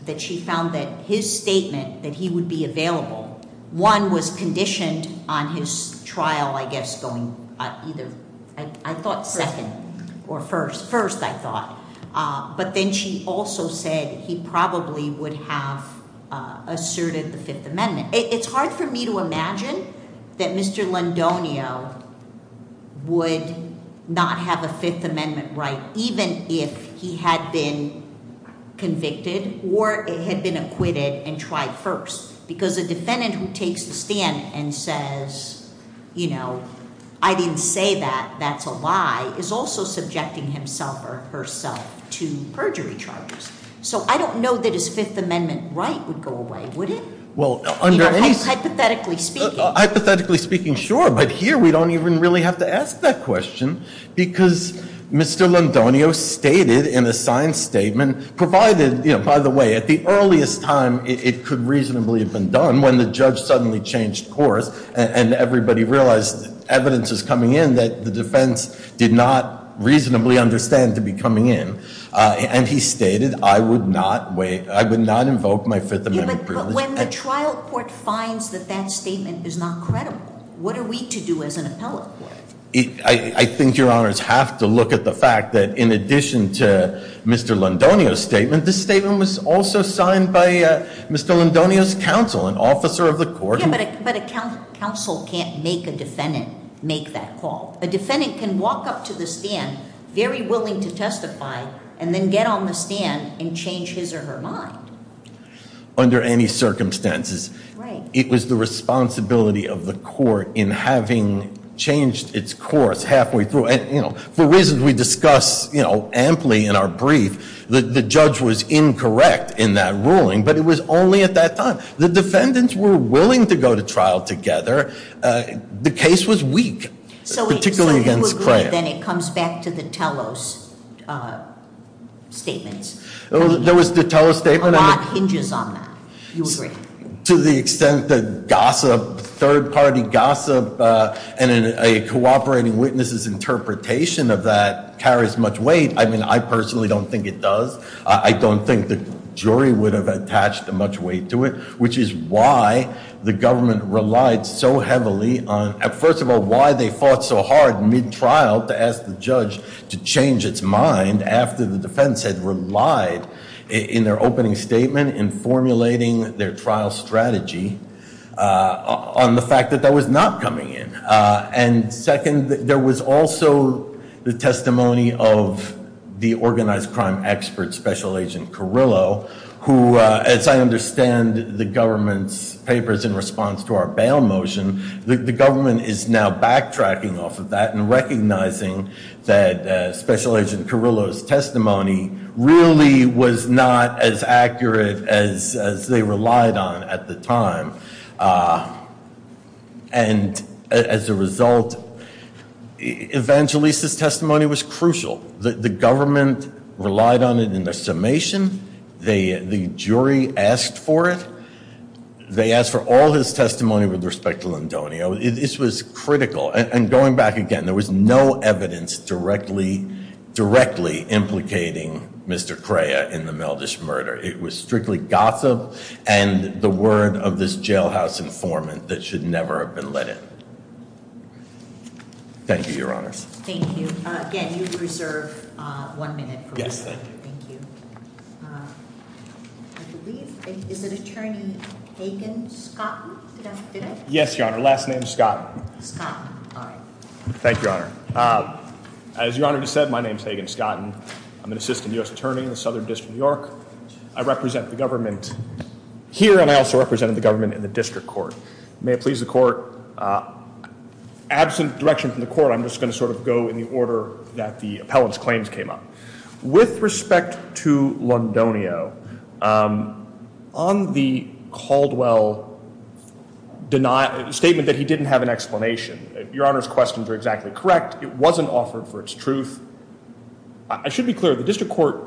that she found that his statement that he would be available, one, was conditioned on his trial, I guess, going either, I thought, second or first. First, I thought. But then she also said he probably would have asserted the Fifth Amendment. It's hard for me to imagine that Mr. Londonio would not have a Fifth Amendment right, even if he had been convicted or had been acquitted and tried first, because the defendant who takes the stand and says, you know, I didn't say that, that's a lie, is also subjecting himself or herself to perjury charges. So I don't know that his Fifth Amendment right would go away, would it? Hypothetically speaking, sure, but here we don't even really have to ask that question, because Mr. Londonio stated in a signed statement, provided, you know, by the way, at the earliest time it could reasonably have been done, when the judge suddenly changed course and everybody realized evidence is coming in that the defense did not reasonably understand to be coming in. And he stated, I would not wait, I would not invoke my Fifth Amendment privilege. When the trial court finds that that statement is not credible, what are we to do as an appellate? I think your honors have to look at the fact that in addition to Mr. Londonio's statement, this statement was also signed by Mr. Londonio's counsel, an officer of the court. Yeah, but a counsel can't make a defendant make that call. A defendant can walk up to the stand, very willing to testify, and then get on the stand and change his or her mind. Under any circumstances, it was the responsibility of the court in having changed its course halfway through, and you know, for reasons we discussed, you know, amply in our brief, the judge was were willing to go to trial together. The case was weak, particularly against Clare. Then it comes back to the Tellos statement. There was the Tellos statement. To the extent that gossip, third-party gossip, and a cooperating witness's interpretation of that carries much weight. I mean, I personally don't think it does. I don't think the jury would have the government relied so heavily on, first of all, why they fought so hard mid-trial to ask the judge to change its mind after the defense had relied in their opening statement, in formulating their trial strategy, on the fact that that was not coming in. And second, there was also the testimony of the organized crime expert, Special Agent Carrillo, who, as I understand, the government's papers in response to our bail motion, the government is now backtracking off of that and recognizing that Special Agent Carrillo's testimony really was not as accurate as they relied on at the time. And as a result, Evangelista's testimony was crucial. The government relied on it in the summation. The jury asked for it. They asked for all his testimony with respect to Londonio. This was critical. And going back again, there was no evidence directly implicating Mr. Crea in the Veldish murder. It was strictly gossip and the word of this jailhouse informant that should never have been let in. Thank you, Your Honor. Thank you. Again, you've reserved one minute. Thank you. Is the attorney's name Hagen Scotton? Yes, Your Honor. Last name is Scotton. Thank you, Your Honor. As Your Honor just said, my name is Hagen Scotton. I'm an assistant U.S. attorney in the Southern District of New York. I represent the government here and I also represented the government in the district court. May it please the court, absent direction from the court, I'm just going to sort of go in the order that the appellate's claims came up. With respect to Londonio, on the Caldwell statement that he didn't have an explanation, Your Honor's questions are exactly correct. It wasn't offered for its truth. I should be clear, the district court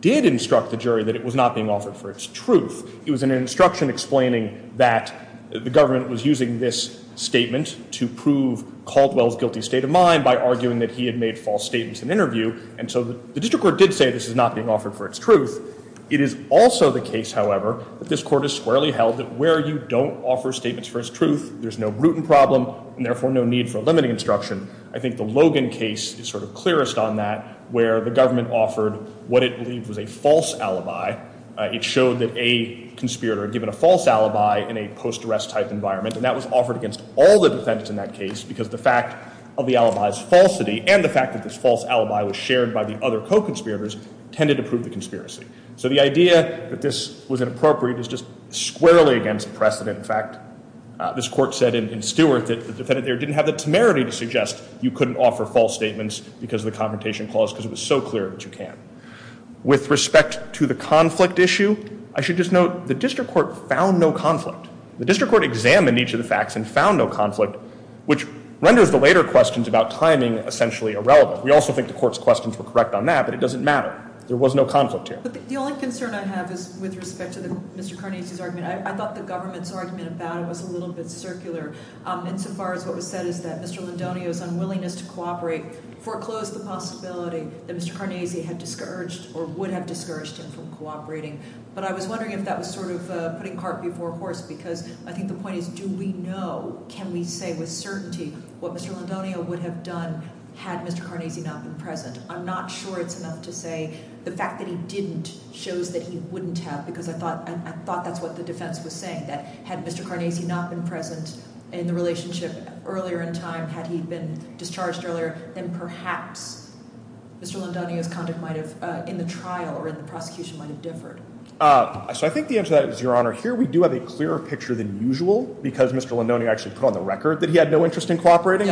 did instruct the jury that it was not being offered for its truth. It was an instruction explaining that the government was using this statement to prove Caldwell's guilty state of mind by arguing that he had made false statements in interview. And so the district court did say this is not being offered for its truth. It is also the case, however, that this court has squarely held that where you don't offer statements for its truth, there's no root in problem and therefore no need for limiting instruction. I think the Logan case is sort of clearest on that, where the government offered what it believed was a false alibi. It showed that a conspirator had given a false alibi in a post-arrest type environment, and that was offered against all the defendants in that case because the fact of the alibi's falsity and the fact that this false alibi was shared by the other co-conspirators tended to prove the conspiracy. So the idea that this was inappropriate is just squarely against precedent. In fact, this court said in Stewart that the defendant there didn't have the temerity to suggest you couldn't offer false statements because of the confrontation clause because it was so clear that you can. With respect to the conflict issue, I should just note the district court found no conflict, which renders the later questions about timing essentially irrelevant. We also think the court's questions were correct on that, but it doesn't matter. There was no conflict here. But the only concern I have is with respect to Mr. Carnegie's argument. I thought the government's argument about it was a little bit circular insofar as what was said is that Mr. Londonio's unwillingness to cooperate foreclosed the possibility that Mr. Carnegie had discouraged or would have discouraged us from cooperating. But I was wondering if that was sort of putting because I think the point is, do we know, can we say with certainty what Mr. Londonio would have done had Mr. Carnegie not been present? I'm not sure it's enough to say the fact that he didn't show that he wouldn't have, because I thought that's what the defense was saying, that had Mr. Carnegie not been present in the relationship earlier in time, had he been discharged earlier, then perhaps Mr. Londonio might have, in the trial or in the prosecution, might have differed. So I think the answer to that is, Your Honor, here we do have a clearer picture than usual because Mr. Londonio actually put on the record that he had no interest in cooperating.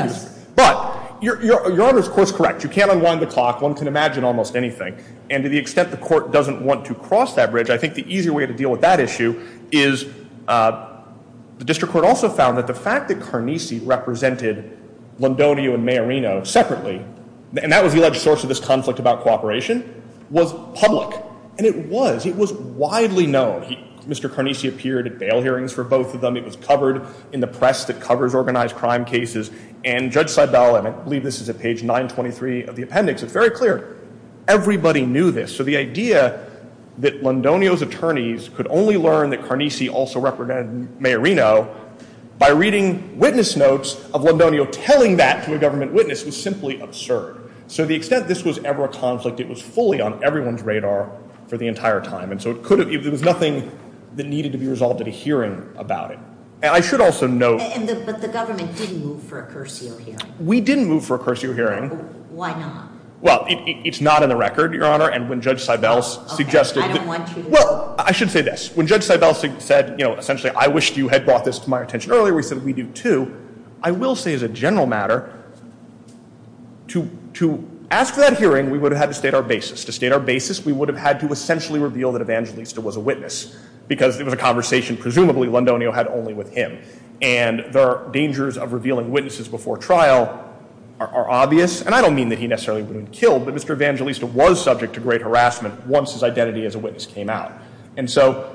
But Your Honor is, of course, correct. You can't unwind the clock. One can imagine almost anything. And to the extent the court doesn't want to cross that bridge, I think the easier way to deal with that issue is the district court also found that the fact that Carnese represented Londonio and Mayorino separately, and that was the alleged source of this conflict about cooperation, was public. And it was. It was widely known. Mr. Carnese appeared at bail hearings for both of them. It was covered in the press that covers organized crime cases. And Judge Seibel, and I believe this is at page 923 of the appendix, it's very clear, everybody knew this. So the idea that Londonio's attorneys could only learn that Carnese also represented Mayorino by reading witness notes of Londonio telling that to a government witness was simply absurd. So to the extent this was ever a conflict, it was fully on everyone's radar for the entire time. And so it was nothing that needed to be resolved at a hearing about it. And I should also note- And the government didn't move for a cursio hearing. We didn't move for a cursio hearing. Why not? Well, it's not in the record, Your Honor. And when Judge Seibel suggested- I don't want you to- Well, I should say this. When Judge Seibel said, you know, essentially, I wish you had brought this to my attention earlier, we said we do too. I will say as a To ask for that hearing, we would have had to state our basis. To state our basis, we would have had to essentially reveal that Evangelista was a witness, because it was a conversation presumably Londonio had only with him. And the dangers of revealing witnesses before trial are obvious. And I don't mean that he necessarily would have been killed, but Mr. Evangelista was subject to great harassment once his identity as a witness came out. And so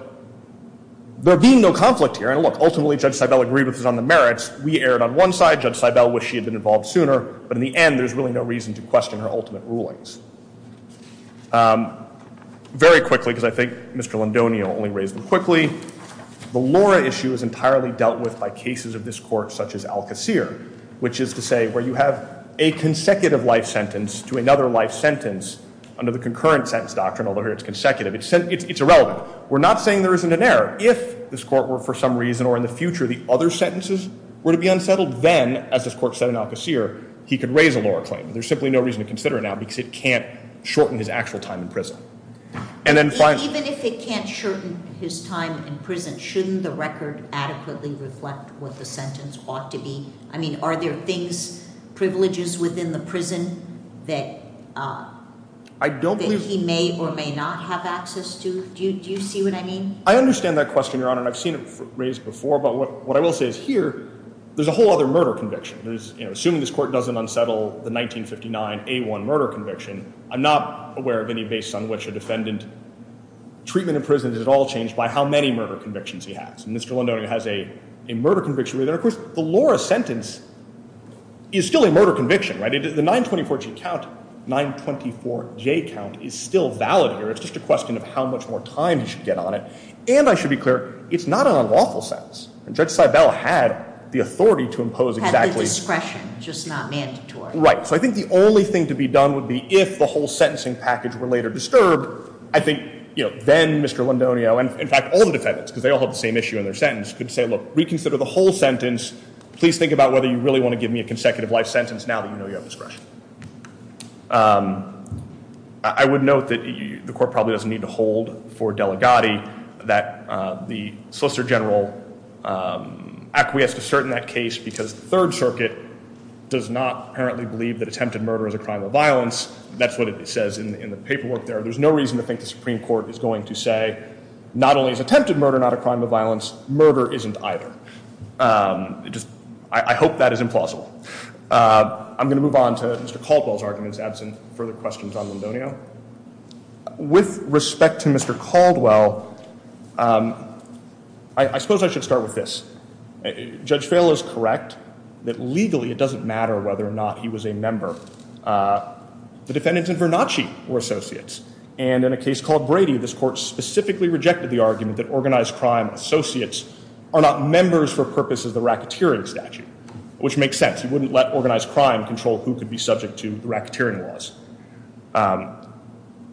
there being no conflict here, and look, ultimately, Judge Seibel agreed with us on the merits. We erred on one side. Judge Seibel wished he had been involved sooner. But in the end, there's really no reason to question her ultimate rulings. Very quickly, because I think Mr. Londonio only raised them quickly, the Laura issue is entirely dealt with by cases of this court, such as Alcacer, which is to say where you have a consecutive life sentence to another life sentence under the concurrent sentence doctrine, although here it's consecutive. It's irrelevant. We're not saying there isn't an error. If this court were, for some reason, or in the future, the other sentences were to be unfettered, then, as this court said in Alcacer, he could raise a Laura claim. And there's simply no reason to consider it now, because it can't shorten his actual time in prison. And then finally- Even if it can't shorten his time in prison, shouldn't the record adequately reflect what the sentence ought to be? I mean, are there things, privileges within the prison that he may or may not have access to? Do you see what I mean? I understand that question, Your Honor, and I've seen it raised before. But what I will say is, here, there's a whole other murder conviction. Assuming this court doesn't unsettle the 1959 A1 murder conviction, I'm not aware of any case on which a defendant's treatment in prison is at all changed by how many murder convictions he has. And Mr. Londonio has a murder conviction. And of course, the Laura sentence is still a murder conviction, right? The 924G count, 924J count, is still valid here. It's just a question of how much more time he should get on it. And I should be clear, it's not on a lawful sentence. And Judge Seibel had the authority to impose exactly- Had discretion, just not mandatory. Right. So I think the only thing to be done would be, if the whole sentencing package were later disturbed, I think, you know, then Mr. Londonio and, in fact, all the defendants, because they all have the same issue in their sentence, could say, look, reconsider the whole sentence. Please think about whether you really want to give me a consecutive life sentence now that I've been sentenced. I would note that the court probably doesn't need to hold for Delegati that the Solicitor General acquiesced to cert in that case because the Third Circuit does not apparently believe that attempted murder is a crime of violence. That's what it says in the paperwork there. There's no reason to think the Supreme Court is going to say, not only is attempted murder not a crime of violence, murder isn't either. I hope that is implausible. I'm going to move on to Mr. Caldwell's arguments, add some further questions on Londonio. With respect to Mr. Caldwell, I suppose I should start with this. Judge Seibel is correct that legally it doesn't matter whether or not he was a member. The defendants in Vernacci were associates. And in a case called Brady, this court specifically rejected the argument that organized crime associates are not members for purposes of the racketeering statute, which makes sense. You wouldn't let organized crime control who could be subject to racketeering laws.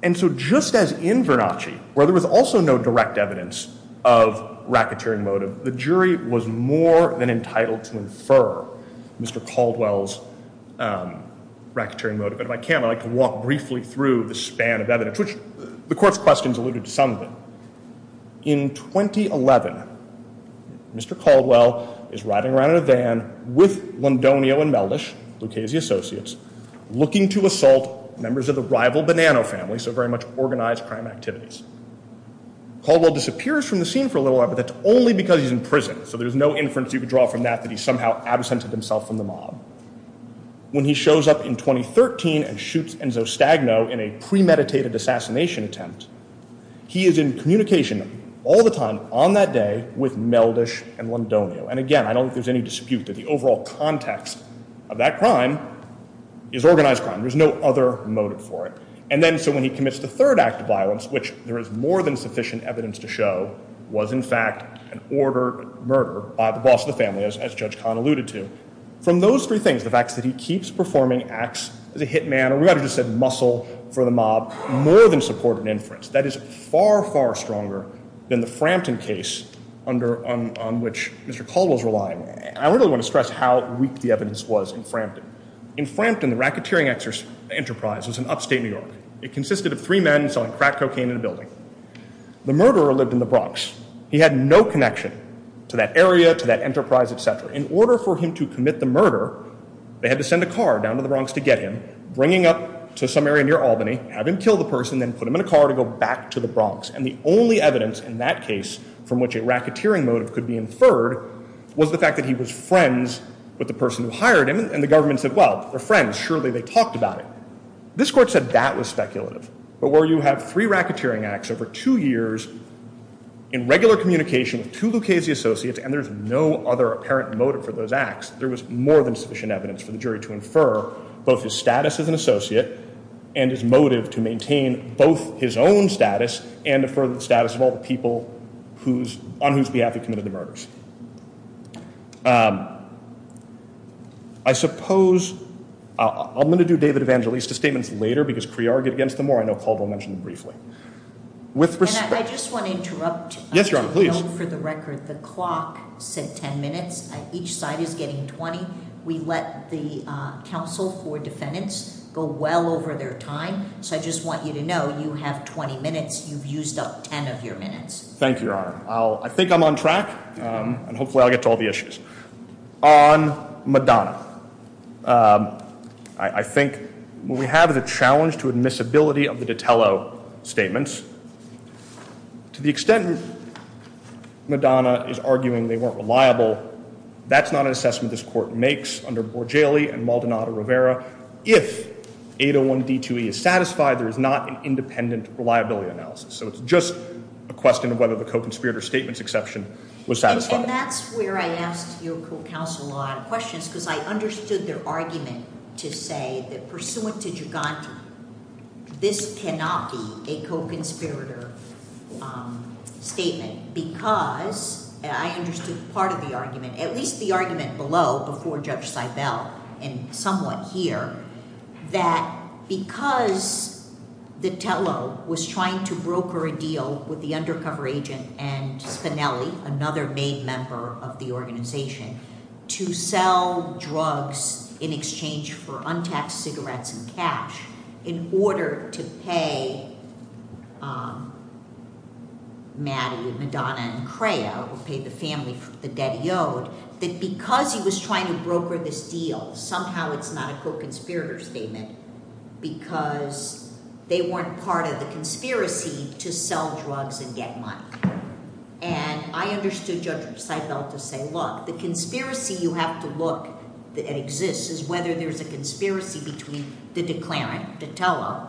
And so just as in Vernacci, where there was also no direct evidence of racketeering motive, the jury was more than entitled to infer Mr. Caldwell's racketeering motive. If I can, I'd like to walk briefly through the span of evidence, which the court's questions alluded to some of them. In 2011, Mr. Caldwell is riding around in a van with Londonio and Mellish, Lucchese associates, looking to assault members of the rival Bonanno family, so very much organized crime activities. Caldwell disappears from the scene for a little while, but that's only because he's in prison. So there's no inference you could draw from that that he somehow absented himself from the mob. When he shows up in 2013 and shoots Enzo Stagno in a premeditated assassination attempt, he is in communication all the time on that day with Mellish and Londonio. And again, I don't think there's any dispute that the overall context of that crime is organized crime. There's no other motive for it. And then so when he commits the third act of violence, which there is more than sufficient evidence to show, was in fact an order murder by the boss of the family, as Judge Kahn alluded to. From those three things, the fact that he keeps performing acts of the hitman, and we haven't just said muscle for the mob, more than supported inference. That is far, far stronger than the Frampton case on which Mr. Caldwell's relying on. I really want to stress how weak the evidence was in Frampton. In Frampton, the racketeering enterprise was in upstate New York. It consisted of three men selling crack cocaine in the building. The murderer lived in the Bronx. He had no connection to that area, to that enterprise, et cetera. In order for him to commit the murder, they had to send a car down to the Bronx to get him, bringing up to some area near Albany, have him kill the person, then put him in a car to go back to the Bronx. And the only evidence in that case from which a racketeering motive could be inferred was the fact that he was friends with the person who hired him. And the government said, well, they're friends. Surely they talked about it. This court said that was speculative. But where you have three racketeering acts over two years in regular communication with two Lucchese associates, and there's no other apparent motive for those acts, there was more than sufficient evidence for the jury to infer both his status as an associate and his motive to maintain both his own status and the status of all the people on whose behalf he committed the murders. I suppose I'm going to do David Evangeliste's statement later because pre-argued against briefly. I think I'm on track and hopefully I'll get to all the issues. On Madonna, I think what we have is a challenge to admissibility of the Ditello statements. To the extent that Madonna is arguing they weren't reliable, that's not an assessment this court makes under Borgelli and Maldonado-Rivera. If 801b2e is satisfied, there is not an independent reliability analysis. So it's just a question of whether the co-conspirator statement's exception was satisfied. And that's where I ask your counsel a lot of questions because I understood their argument to say that pursuant to Giugandi, this cannot be a co-conspirator statement because, and I understood part of the argument, at least the argument below before Judge Seibel and somewhat here, that because Ditello was trying to broker a deal with the undercover agent and Cinelli, another main member of the organization, to sell drugs in exchange for untaxed cigarettes and cash in order to pay Maddie, Madonna, and Crea, who paid the family for the dead yoke, that because he was trying to broker this deal, somehow it's not a co-conspirator statement because they weren't part of the conspiracy to sell drugs and get money. And I understood Judge Seibel to say, look, the conspiracy you have to look that exists is whether there's a conspiracy between the declarant, Ditello,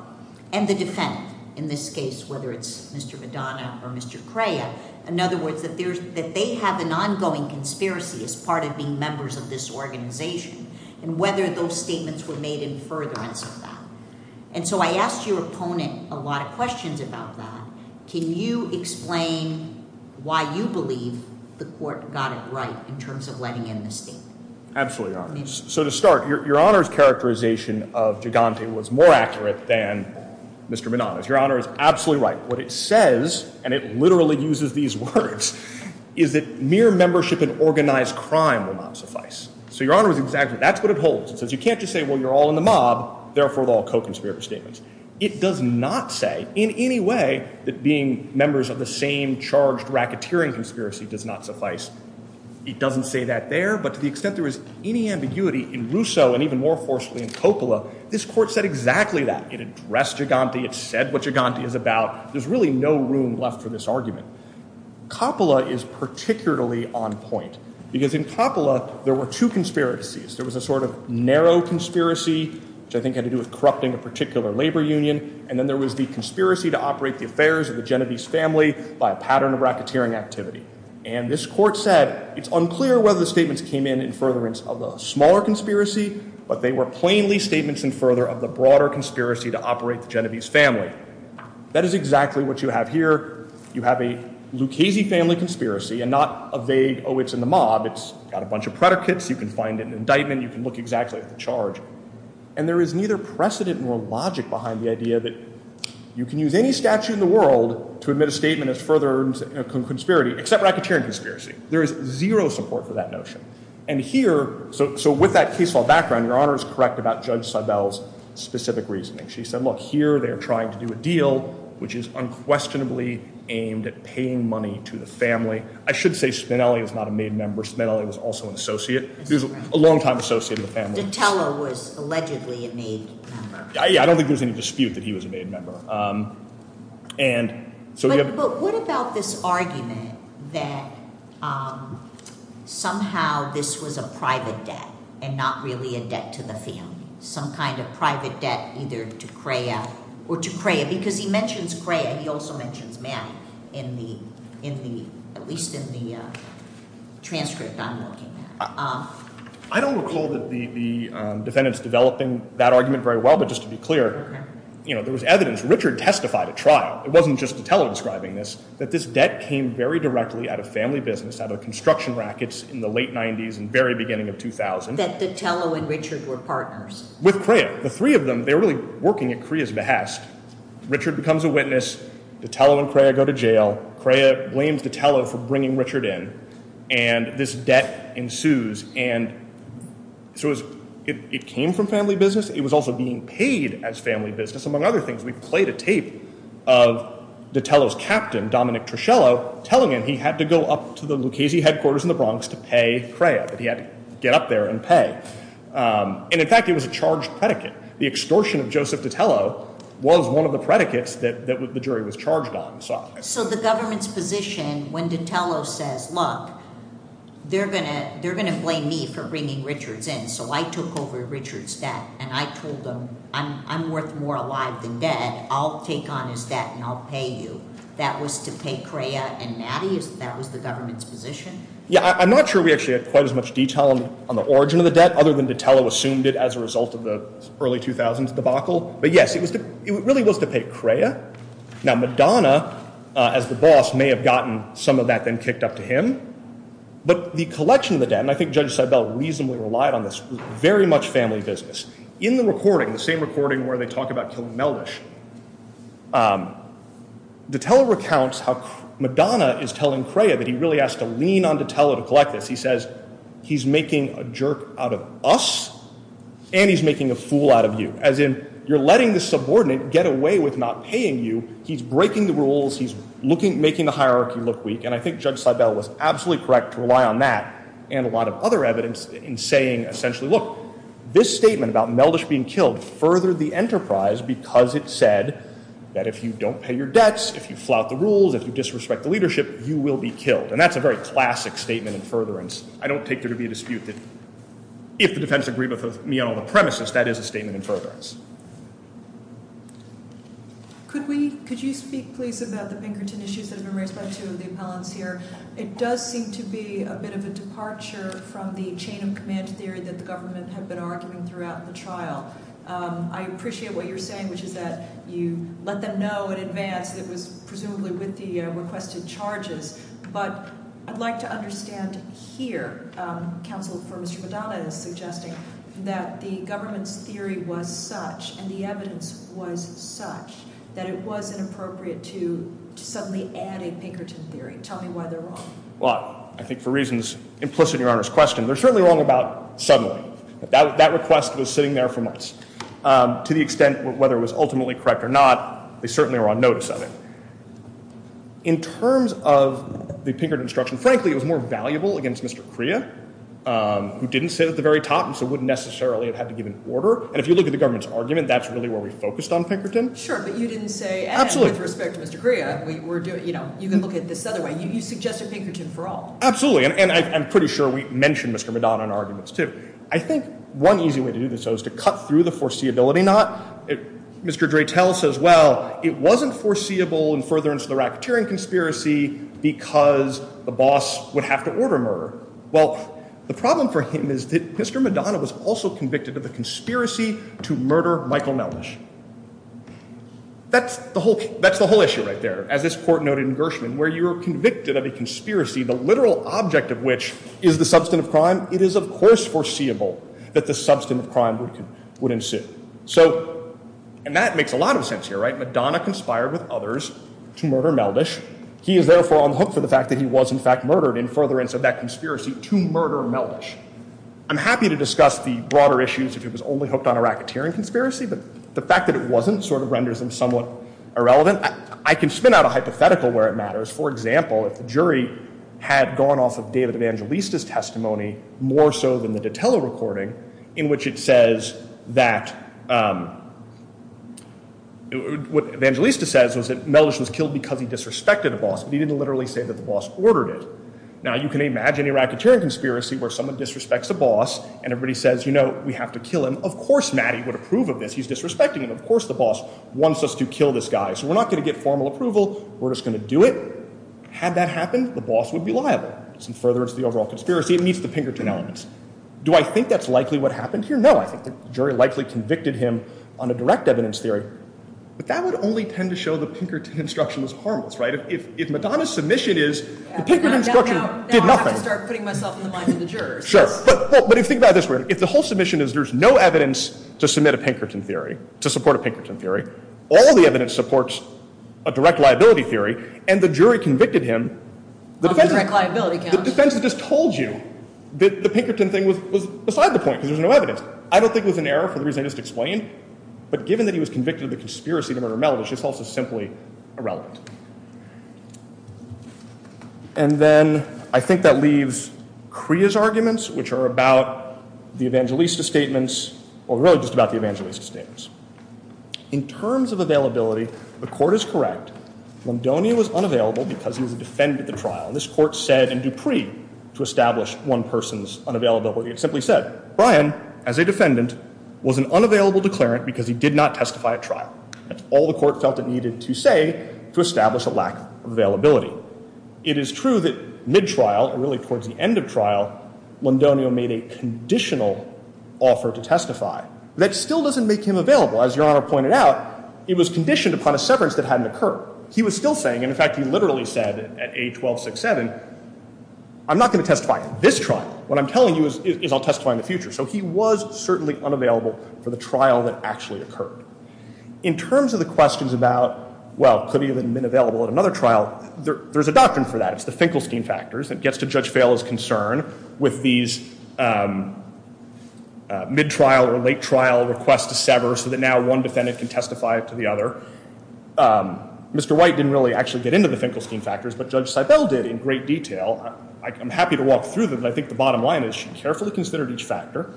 and the defense, in this case, whether it's Mr. Madonna or Mr. Crea. In other words, that they have an ongoing conspiracy as part of being members of this organization and whether those statements were made in furtherance of that. And so I ask your opponent a lot of questions about that. Can you explain why you believe the court got it right in terms of letting him escape? Absolutely, Your Honor. So to start, Your Honor's characterization of Gigante was more accurate than Mr. Madonna's. Your Honor is absolutely right. What it says, and it literally uses these words, is that mere membership in organized crime will not suffice. So Your Honor is exactly, that's what it holds. It says you can't just say, well, you're all in a mob, therefore they're all co-conspirator statements. It does not say in any way that being members of the same charged racketeering conspiracy does not suffice. It doesn't say that there, but to the extent there is any ambiguity in Rousseau and even more forcefully in Coppola, this court said exactly that. It addressed Gigante. It said what Gigante is about. There's really no room left for this argument. Coppola is particularly on point because in Coppola, there were two conspiracies. There was a sort of narrow conspiracy, which I think had to do with corrupting a particular labor union. And then there was the conspiracy to operate the affairs of the Genovese family by a pattern of racketeering activity. And this court said, it's unclear whether the statements came in in furtherance of the smaller conspiracy, but they were plainly statements in further of the broader conspiracy to operate the Genovese family. That is exactly what you have here. You have a Lucchese family conspiracy and not a vague, oh, it's in the mob. It's got a lot of predicates. You can find an indictment. You can look exactly at the charge. And there is neither precedent or logic behind the idea that you can use any statute in the world to admit a statement as furtherance of a conspiracy, except racketeering conspiracy. There is zero support for that notion. And here, so with that case law background, your Honor is correct about Judge Sabel's specific reasoning. She said, look, here they're trying to do a deal, which is unquestionably aimed at paying money to the family. I should say Spinelli was not a main member. Spinelli was also a long-time associate in the family. The teller was allegedly a main member. Yeah, I don't think there's any dispute that he was a main member. But what about this argument that somehow this was a private debt and not really a debt to the family? Some kind of private debt either to Crea or to Crea, because he mentions Crea. He also mentions Matt in the, at least in the transcript. I don't recall that the defendant's developing that argument very well, but just to be clear, you know, there was evidence. Richard testified at trial. It wasn't just the teller describing this, that this debt came very directly out of family business, out of construction rackets in the late 90s and very beginning of 2000. That the teller and Richard were partners. With Crea, the three of them, they're really working at Crea's behest. Richard becomes a witness. The teller and Crea go to jail. Crea blames the teller for bringing Richard in, and this debt ensues. And so it came from family business. It was also being paid as family business. Among other things, we played a tape of the teller's captain, Dominic Truscello, telling him he had to go up to the Lucchese headquarters in the Bronx to pay Crea. He had to get up there and pay. And in fact, it was a charged predicate. The extortion of Joseph DiTello was one of the predicates that the jury was charged on. So the government's position, when DiTello says, look, they're going to blame me for bringing Richard in. So I took over Richard's debt, and I told them, I'm worth more alive than dead. I'll take on his debt, and I'll pay you. That was to pay Crea and Mattie? That was the government's position? Yeah, I'm not sure we quite as much detail on the origin of the debt, other than DiTello assumed it as a result of the early 2000s debacle. But yes, it really was to pay Crea. Now, Madonna, as the boss, may have gotten some of that then kicked up to him. But the collection of the debt, and I think Judge Seibel reasonably relied on this, was very much family business. In the recording, the same recording where they talk about killing Melvish, DiTello recounts how Madonna is telling Crea that he on DiTello to collect this. He says, he's making a jerk out of us, and he's making a fool out of you. As in, you're letting the subordinate get away with not paying you, he's breaking the rules, he's making the hierarchy look weak. And I think Judge Seibel was absolutely correct to rely on that, and a lot of other evidence in saying, essentially, look, this statement about Melvish being killed furthered the enterprise because it said that if you don't pay your debts, if you don't pay your debts, you're going to be in debt forever. And that's a very classic statement in furtherance. I don't take there to be a dispute that if the defense agreement of neoliberal premises, that is a statement in furtherance. Could we, could you speak, please, about the Pinkerton issues of Memorandum Part 2 of the appellants here? It does seem to be a bit of a departure from the chain of command theory that the governments have been arguing throughout the trial. I appreciate what you're saying, which is that you let them know in advance that it was presumably with the requested charges, but I'd like to understand here, counsel from Subodai, that the government's theory was such, and the evidence was such, that it wasn't appropriate to suddenly add a Pinkerton theory. Tell me why they're wrong. Well, I think for reasons implicit in your Honor's question, they're certainly wrong about to the extent, whether it was ultimately correct or not, they certainly were on notice of it. In terms of the Pinkerton instruction, frankly, it was more valuable against Mr. Crea, who didn't sit at the very top, and so wouldn't necessarily have had to give an order. And if you look at the government's argument, that's really where we focused on Pinkerton. Sure, but you didn't say, absolutely, with respect to Mr. Crea, we were doing, you know, you can look at this other way. You suggested Pinkerton for all. Absolutely. And I'm pretty sure we mentioned Mr. Madonna in arguments, too. I think one easy way to do this, though, is to cut through the foreseeability knot. Mr. Dreytel says, well, it wasn't foreseeable in furtherance of the rapturing conspiracy, because the boss would have to order murder. Well, the problem for him is that Mr. Madonna was also convicted of a conspiracy to murder Michael Melnick. That's the whole issue right there, as this court noted in Gershwin, where you're convicted of a conspiracy, the literal object of which is the substance of crime. It is, of course, foreseeable that the substance of crime would ensue. So, and that makes a lot of sense here, right? Madonna conspired with others to murder Melnick. He is therefore unhooked for the fact that he was, in fact, murdered in furtherance of that conspiracy to murder Melnick. I'm happy to discuss the broader issues, if it was only hooked on a racketeering conspiracy, but the fact that it wasn't sort of renders them somewhat irrelevant. I can spin out a hypothetical where it matters. For example, if the jury had gone off of David Evangelista's testimony, more so than the Vitello recording, in which it says that what Evangelista says was that Melnick was killed because he disrespected the boss. He didn't literally say that the boss ordered it. Now, you can imagine a rapture conspiracy where someone disrespects the boss, and everybody says, you know, we have to kill him. Of course, Maddie would approve of this. He's disrespecting him. Of course, the boss wants us to kill this guy. So, we're not going to get formal approval. We're just going to do it. Had that happened, the boss would be liable. In furtherance of the overall conspiracy, it meets the Pinkerton elements. Do I think that's likely what happened here? No, I think the jury likely convicted him on a direct evidence theory, but that would only tend to show the Pinkerton instruction was harmless, right? If Madonna's submission is, the Pinkerton instruction did nothing. Now, I have to start putting myself in the mind of the jurors. Sure, but if you think about it this way, if the whole submission is there's no evidence to submit a Pinkerton theory, to support a Pinkerton theory, all the evidence supports a direct liability theory, and the jury convicted him, the defense has just told you that the Pinkerton thing was beside the point because there's no evidence. I don't think it was an error for the reason I just explained, but given that he was convicted of a conspiracy to murder Mel, this is also simply irrelevant. And then, I think that leaves Crea's arguments, which are about the Evangelista statements, or really just about the Evangelista statements. In terms of availability, the court is correct. Londonio was unavailable because he was a defendant at the trial. This court said in Dupree to establish one person's unavailability. It simply said, Brian, as a defendant, was an unavailable declarant because he did not testify at trial. That's all the court felt it needed to say to establish a lack of availability. It is true that mid-trial, and really towards the end of trial, Londonio made a conditional offer to testify. That still doesn't make him available. As Your Honor pointed out, it was conditioned upon a severance that hadn't occurred. He was still saying, and in fact, he literally said at age 1267, I'm not going to testify at this trial. What I'm telling you is I'll testify in the future. So he was certainly unavailable for the trial that actually occurred. In terms of the questions about, well, could he have been available at another trial, there's a doctrine for that. It's the Finkelstein factors. It gets to Judge Bail's concern with these mid-trial or late-trial requests to sever so that now one defendant can testify to the other. Mr. White didn't really actually get into the Finkelstein factors, but Judge Seibel did in great detail. I'm happy to walk through them, but I think the bottom line is she carefully considered each factor.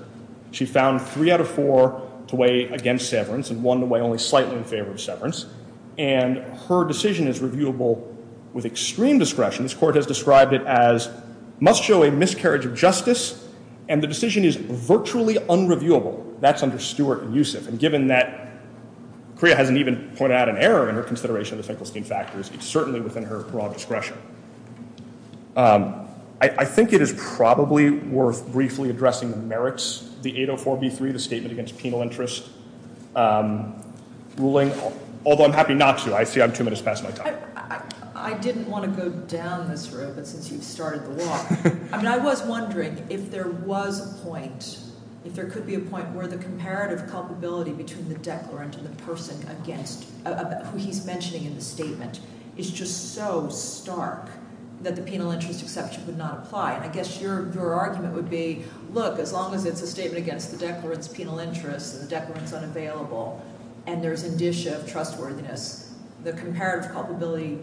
She found three out of four to weigh against severance and one to weigh only slightly in favor of severance. And her decision is reviewable with extreme discretion. This court has described it as must show a miscarriage of justice, and the decision is virtually unreviewable. That's under Stewart and Usick. And given that Priya hasn't even pointed out an error in her consideration of the Finkelstein factors, it's certainly within her raw discretion. I think it is probably worth briefly addressing the merits, the 804b3, the statement against penal interest ruling, although I'm happy not to. I see I'm two minutes past my time. I didn't want to go down this road, but since you started the walk, I mean, I was wondering if there was a point, if there could be a point where the comparative culpability between the declarant and the person against who he's mentioning in the statement is just so stark that the penal interest exception would not apply. I guess your argument would be, look, as long as it's a statement against the declarant's penal interest and the declarant's available, and there's indicia of trustworthiness, the comparative culpability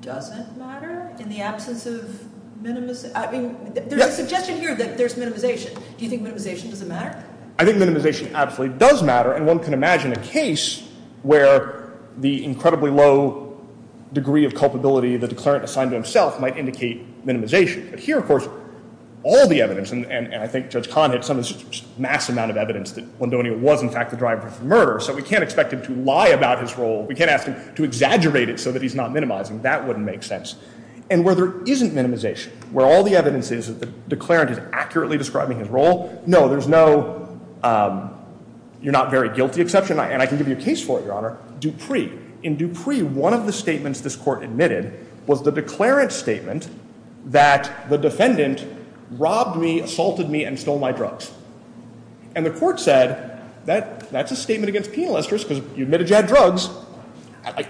doesn't matter in the absence of minimization? I mean, there's a suggestion here that there's minimization. Do you think minimization doesn't matter? I think minimization absolutely does matter, and one can imagine a case where the incredibly low degree of culpability that the declarant assigned to himself might indicate minimization. But here, of course, all the evidence, and I think some of this mass amount of evidence that Londonio was, in fact, the driver of the murder, so we can't expect him to lie about his role. We can't ask him to exaggerate it so that he's not minimizing. That wouldn't make sense. And where there isn't minimization, where all the evidence is that the declarant is accurately describing his role, no, there's no you're not very guilty exception, and I can give you a case for it, Your Honor. Dupree. In Dupree, one of the statements this court admitted was the declarant's statement that the defendant robbed me, assaulted me, and stole my drugs. And the court said that that's a statement against penal interest because you admitted you had drugs.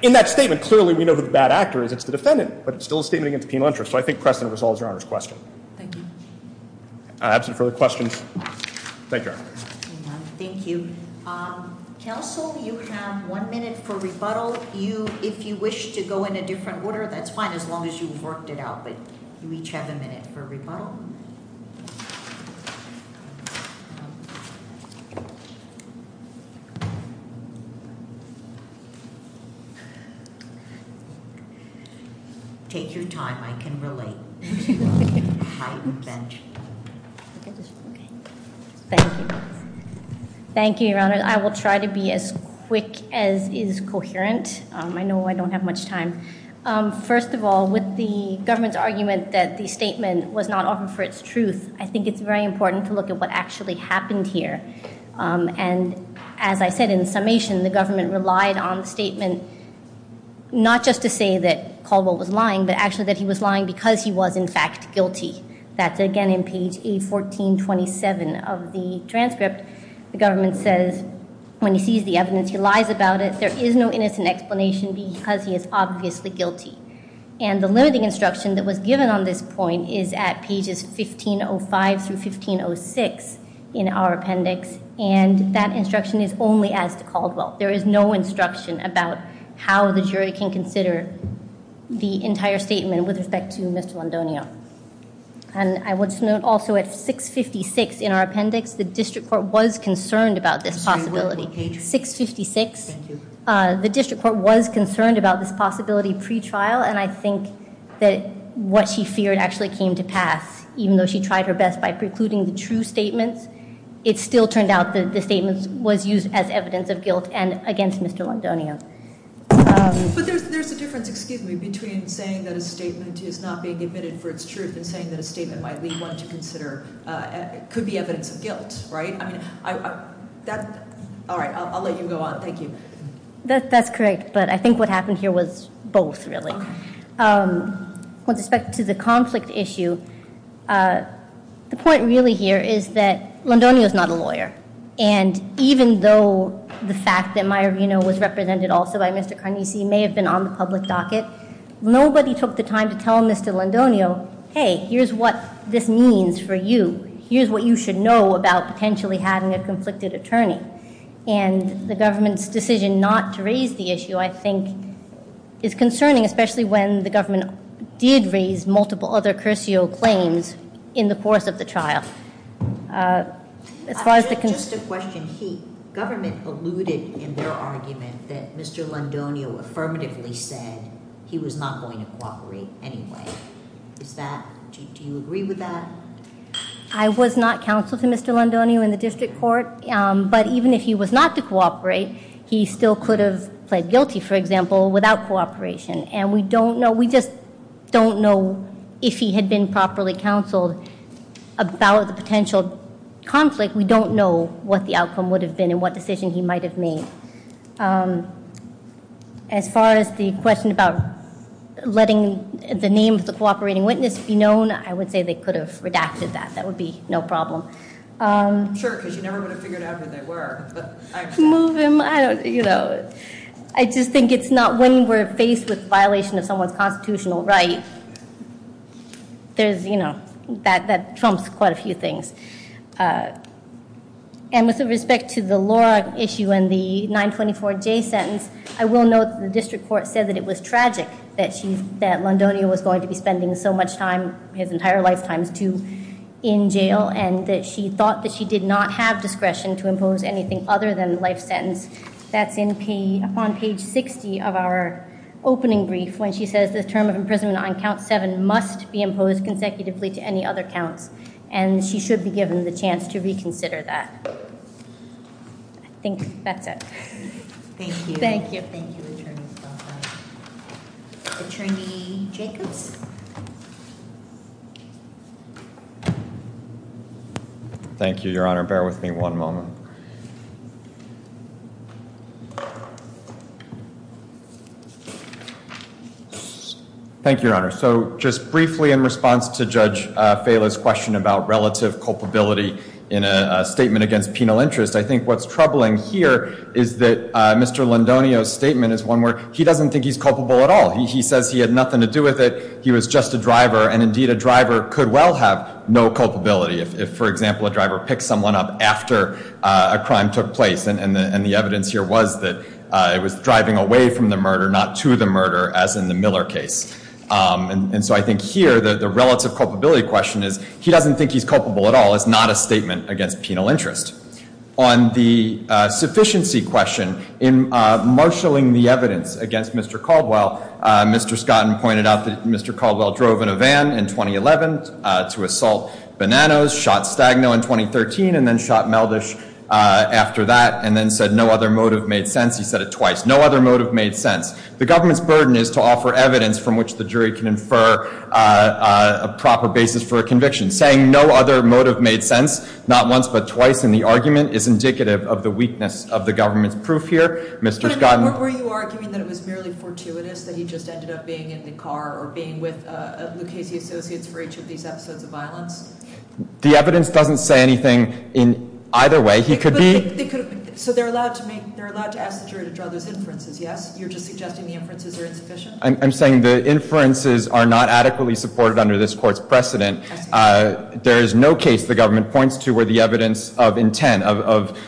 In that statement, clearly we know who the bad actor is. It's the defendant, but it's still a statement against penal interest. So I think Creston resolves Your Honor's question. I have some further questions. Thank you. Thank you. Counsel, you have one minute for rebuttal. If you wish to go in a different order, that's fine, as long as you've worked it out. But you each have a minute for rebuttal. Take your time. I can relate. Thank you. Thank you, Your Honor. I will try to be as quick as is coherent. I know I don't have much time. First of all, with the government's argument that the statement was not often for its truth, I think it's very important to look at what actually happened here. And as I said, in summation, the government relied on the statement not just to say that Caldwell was lying, but actually that he was lying because he was, in fact, guilty. That's again in page A1427 of the transcript. The government says, when he sees the evidence, he lies about it. There is no innocent explanation because he is obviously guilty. And the limiting instruction that was given on this point is at pages 1505 through 1506 in our appendix. And that instruction is only as to Caldwell. There is no instruction about how the jury can consider the entire statement with respect to Ms. Rondonio. And I would note also at 656 in our appendix, the district court was concerned about this possibility. 656. The district court was concerned about this possibility pre-trial. And I think that what she feared actually came to pass, even though she tried her best by precluding the true statement, it still turned out that the statement was used as evidence of guilt and against Ms. Rondonio. But there's a difference, excuse me, between saying that a statement is not being admitted for its truth and saying that we want to consider it could be evidence of guilt, right? All right, I'll let you go on. Thank you. That's correct. But I think what happened here was both, really. With respect to the conflict issue, the point really here is that Rondonio is not a lawyer. And even though the fact that Mayorvino was represented also by Mr. Carnese may have been on the public docket, nobody took the time to tell Mr. Rondonio, hey, here's what this means for you. Here's what you should know about potentially having a conflicted attorney. And the government's decision not to raise the issue, I think, is concerning, especially when the government did raise multiple other crucial claims in the course of the trial. As far as the concern... Government alluded in their argument that Mr. Rondonio affirmatively said he was not going to cooperate anyway. Do you agree with that? I was not counseled to Mr. Rondonio in the district court. But even if he was not to cooperate, he still could have pled guilty, for example, without cooperation. And we don't know, we just don't know if he had been properly counseled about the potential conflict. We don't know what the outcome would have been and what decision he might have made. As far as the question about letting the name of the cooperating witness be known, I would say they could have redacted that. That would be no problem. Sure, because you never would have figured out who they were. I just think it's not... When we're faced with a violation of someone's And with respect to the Laura issue and the 924-J sentence, I will note the district court said that it was tragic that she said Rondonio was going to be spending so much time, his entire lifetime, in jail and that she thought that she did not have discretion to impose anything other than life sentence. That's on page 60 of our opening brief when she says the term of imprisonment on count seven must be imposed consecutively to any other count. And she should be given the chance to reconsider that. I think that's it. Thank you. Thank you. Thank you. Attorney Jacob. Thank you, Your Honor. Bear with me one moment. Thank you, Your Honor. So just briefly in response to Judge Fela's question about relative culpability in a statement against penal interest, I think what's troubling here is that Mr. Rondonio's statement is one where he doesn't think he's culpable at all. He says he had nothing to do with it. He was just a driver. And indeed, a driver could well have no culpability if, for example, a driver picked someone up after a crime took place. And the evidence here was that it was driving away from the murder, not to the murder, as in the Miller case. And so I think here, the relative culpability question is he doesn't think he's culpable at all. It's not a statement against penal interest. On the sufficiency question, in marshalling the evidence against Mr. Caldwell, Mr. Scotton pointed out that Mr. Caldwell drove in a van in 2011 to assault Bananos, shot Stagno in 2013, and then shot Meldish after that, and then said no other motive made sense. He said it twice. No other motive made sense. The government's burden is to offer evidence from which the jury can infer a proper basis for a conviction. Saying no other motive made sense not once but twice in the argument is indicative of the weakness of the government's proof here. What were you arguing? That it was merely fortuitous that he just ended up being in the car or being with Lucchese Associates for each of these episodes of violence? The evidence doesn't say anything in either way. He could be. So they're allowed to make, they're allowed to ask the jury to draw those inferences, yes? You're just suggesting the inferences are not adequately supported under this court's precedent. There is no case the government points to where the evidence of intent, of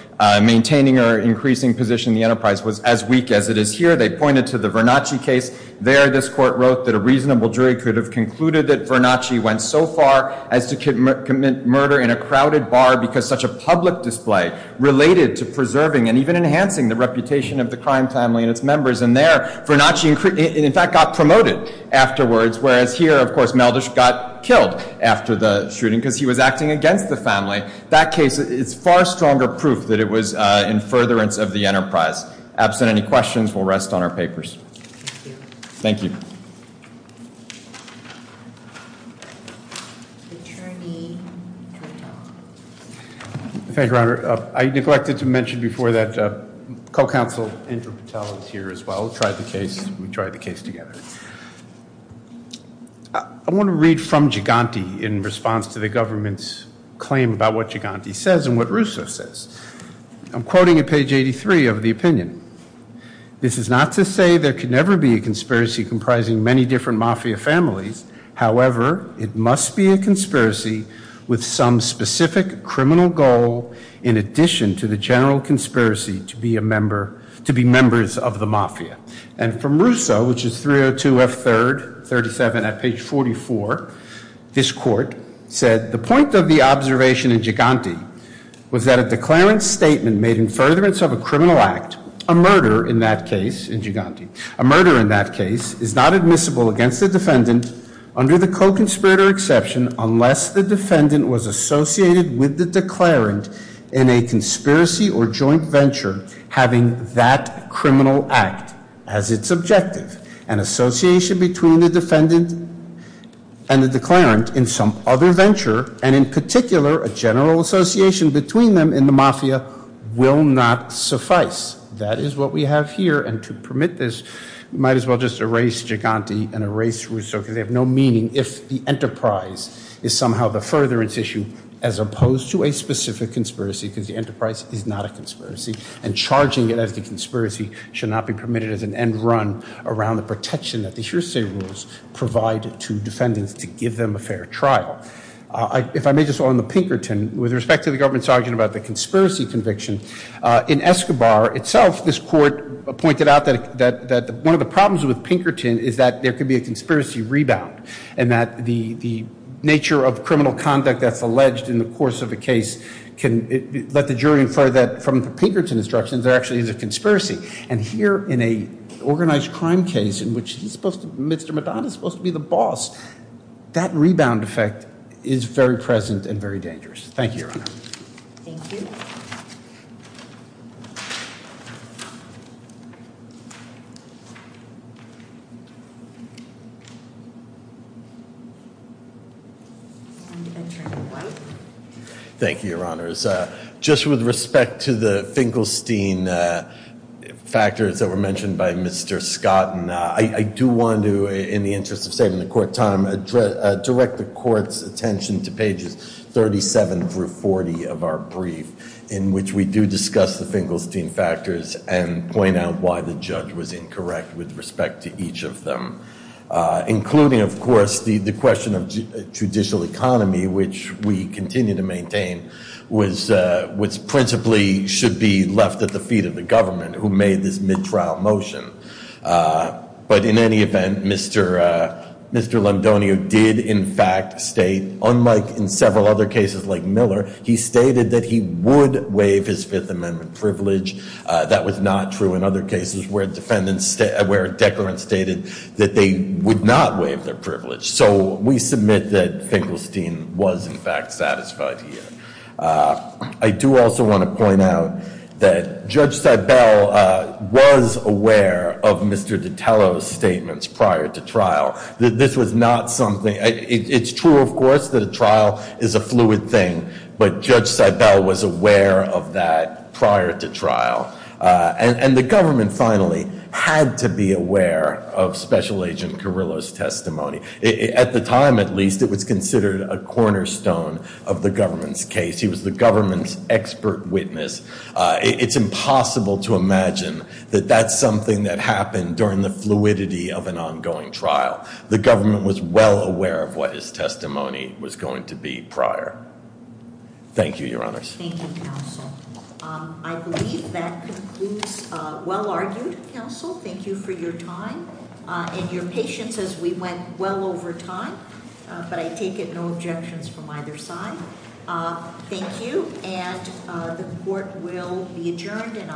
maintaining or increasing position in the enterprise was as weak as it is here. They pointed to the Vernacci case. There this court wrote that a reasonable jury could have concluded that Vernacci went so far as to commit murder in a crowded bar because such a public display related to preserving and even enhancing the reputation of the crime family and its members and there Vernacci in fact got promoted afterwards whereas here of course Meldish got killed after the shooting because he was acting against the family. That case is far stronger proof that it was in furtherance of the enterprise. Absent any questions we'll rest on our papers. Thank you. Thank you, Your Honor. I neglected to mention before that co-counsel Andrew Patel is here as well. We tried the case together. I want to read from Giganti in response to the government's claim about what Giganti says and what Russo says. I'm quoting at page 83 of the opinion. This is not to say there could never be a conspiracy comprising many different Mafia families. However, it must be a conspiracy with some specific criminal goal in addition to the general conspiracy to be a member to be members of the Mafia. And from Russo which is 302 F 3rd 37 at page 44 this court said the point of the observation in Giganti was that a declaring statement made in furtherance of a criminal act a murder in that case in Giganti a murder in that case is not admissible against the defendant under the co-conspirator exception unless the defendant was associated with the declarant in a conspiracy or joint venture having that criminal act as its objective an association between the defendant and the declarant in some other venture and in particular a general association between them in the Mafia will not suffice that is what we have here and to permit this you might as well just erase Giganti and erase Russo because they have no meaning if the enterprise is somehow the furtherance issue as opposed to a specific conspiracy because the enterprise is not a conspiracy and charging it as a conspiracy should not be permitted as an end run around the protection that the surestay rules provide to defendants to give them a fair trial. If I may just on the Pinkerton with respect to the government's argument about the conspiracy conviction in Escobar itself this court pointed out that that that one of the problems with Pinkerton is that there could be a conspiracy rebound and that the the nature of criminal conduct that's alleged in the course of a case can let the jury infer that from the Pinkerton instructions there actually is a conspiracy and here in a organized crime case in which Mr. Madonna is supposed to be the boss that rebound effect is very present and very dangerous. Thank you your honors just with respect to the Finkelstein factors that were mentioned by Mr. Scott and I do want to in the interest of saving the court time to direct the court's attention to pages 37 through 40 of our brief in which we do discuss the Finkelstein factors and point out why the judge was incorrect with respect to each of them including of course the question of judicial economy which we continue to maintain was principally should be left at the feet of the government who made this mid-trial motion but in any event Mr. Lemdonio did in fact state unlike in several other cases like Miller he stated that he would waive his fifth amendment privilege that was not true in other cases where defendants where decorum stated that they would not waive their privilege so we submit that Finkelstein was in fact satisfied here I do also want to point out that Judge Seibel was aware of Mr. Dottaro's statements prior to trial this was not something it's true of course the trial is a fluid thing but Judge Seibel was aware of that prior to trial and the government finally had to be aware of Special Agent Carrillo's testimony at the time at least it was considered a cornerstone of the government's case he was the government's expert witness it's impossible to imagine that that's something that happened during the fluidity of an ongoing trial the government was well aware of what his testimony was going to be prior thank you your honor thank you counsel I believe that concludes well argued counsel thank you for your time and your patience as we went well over time but I take it no objections from either side thank you and the court will be adjourned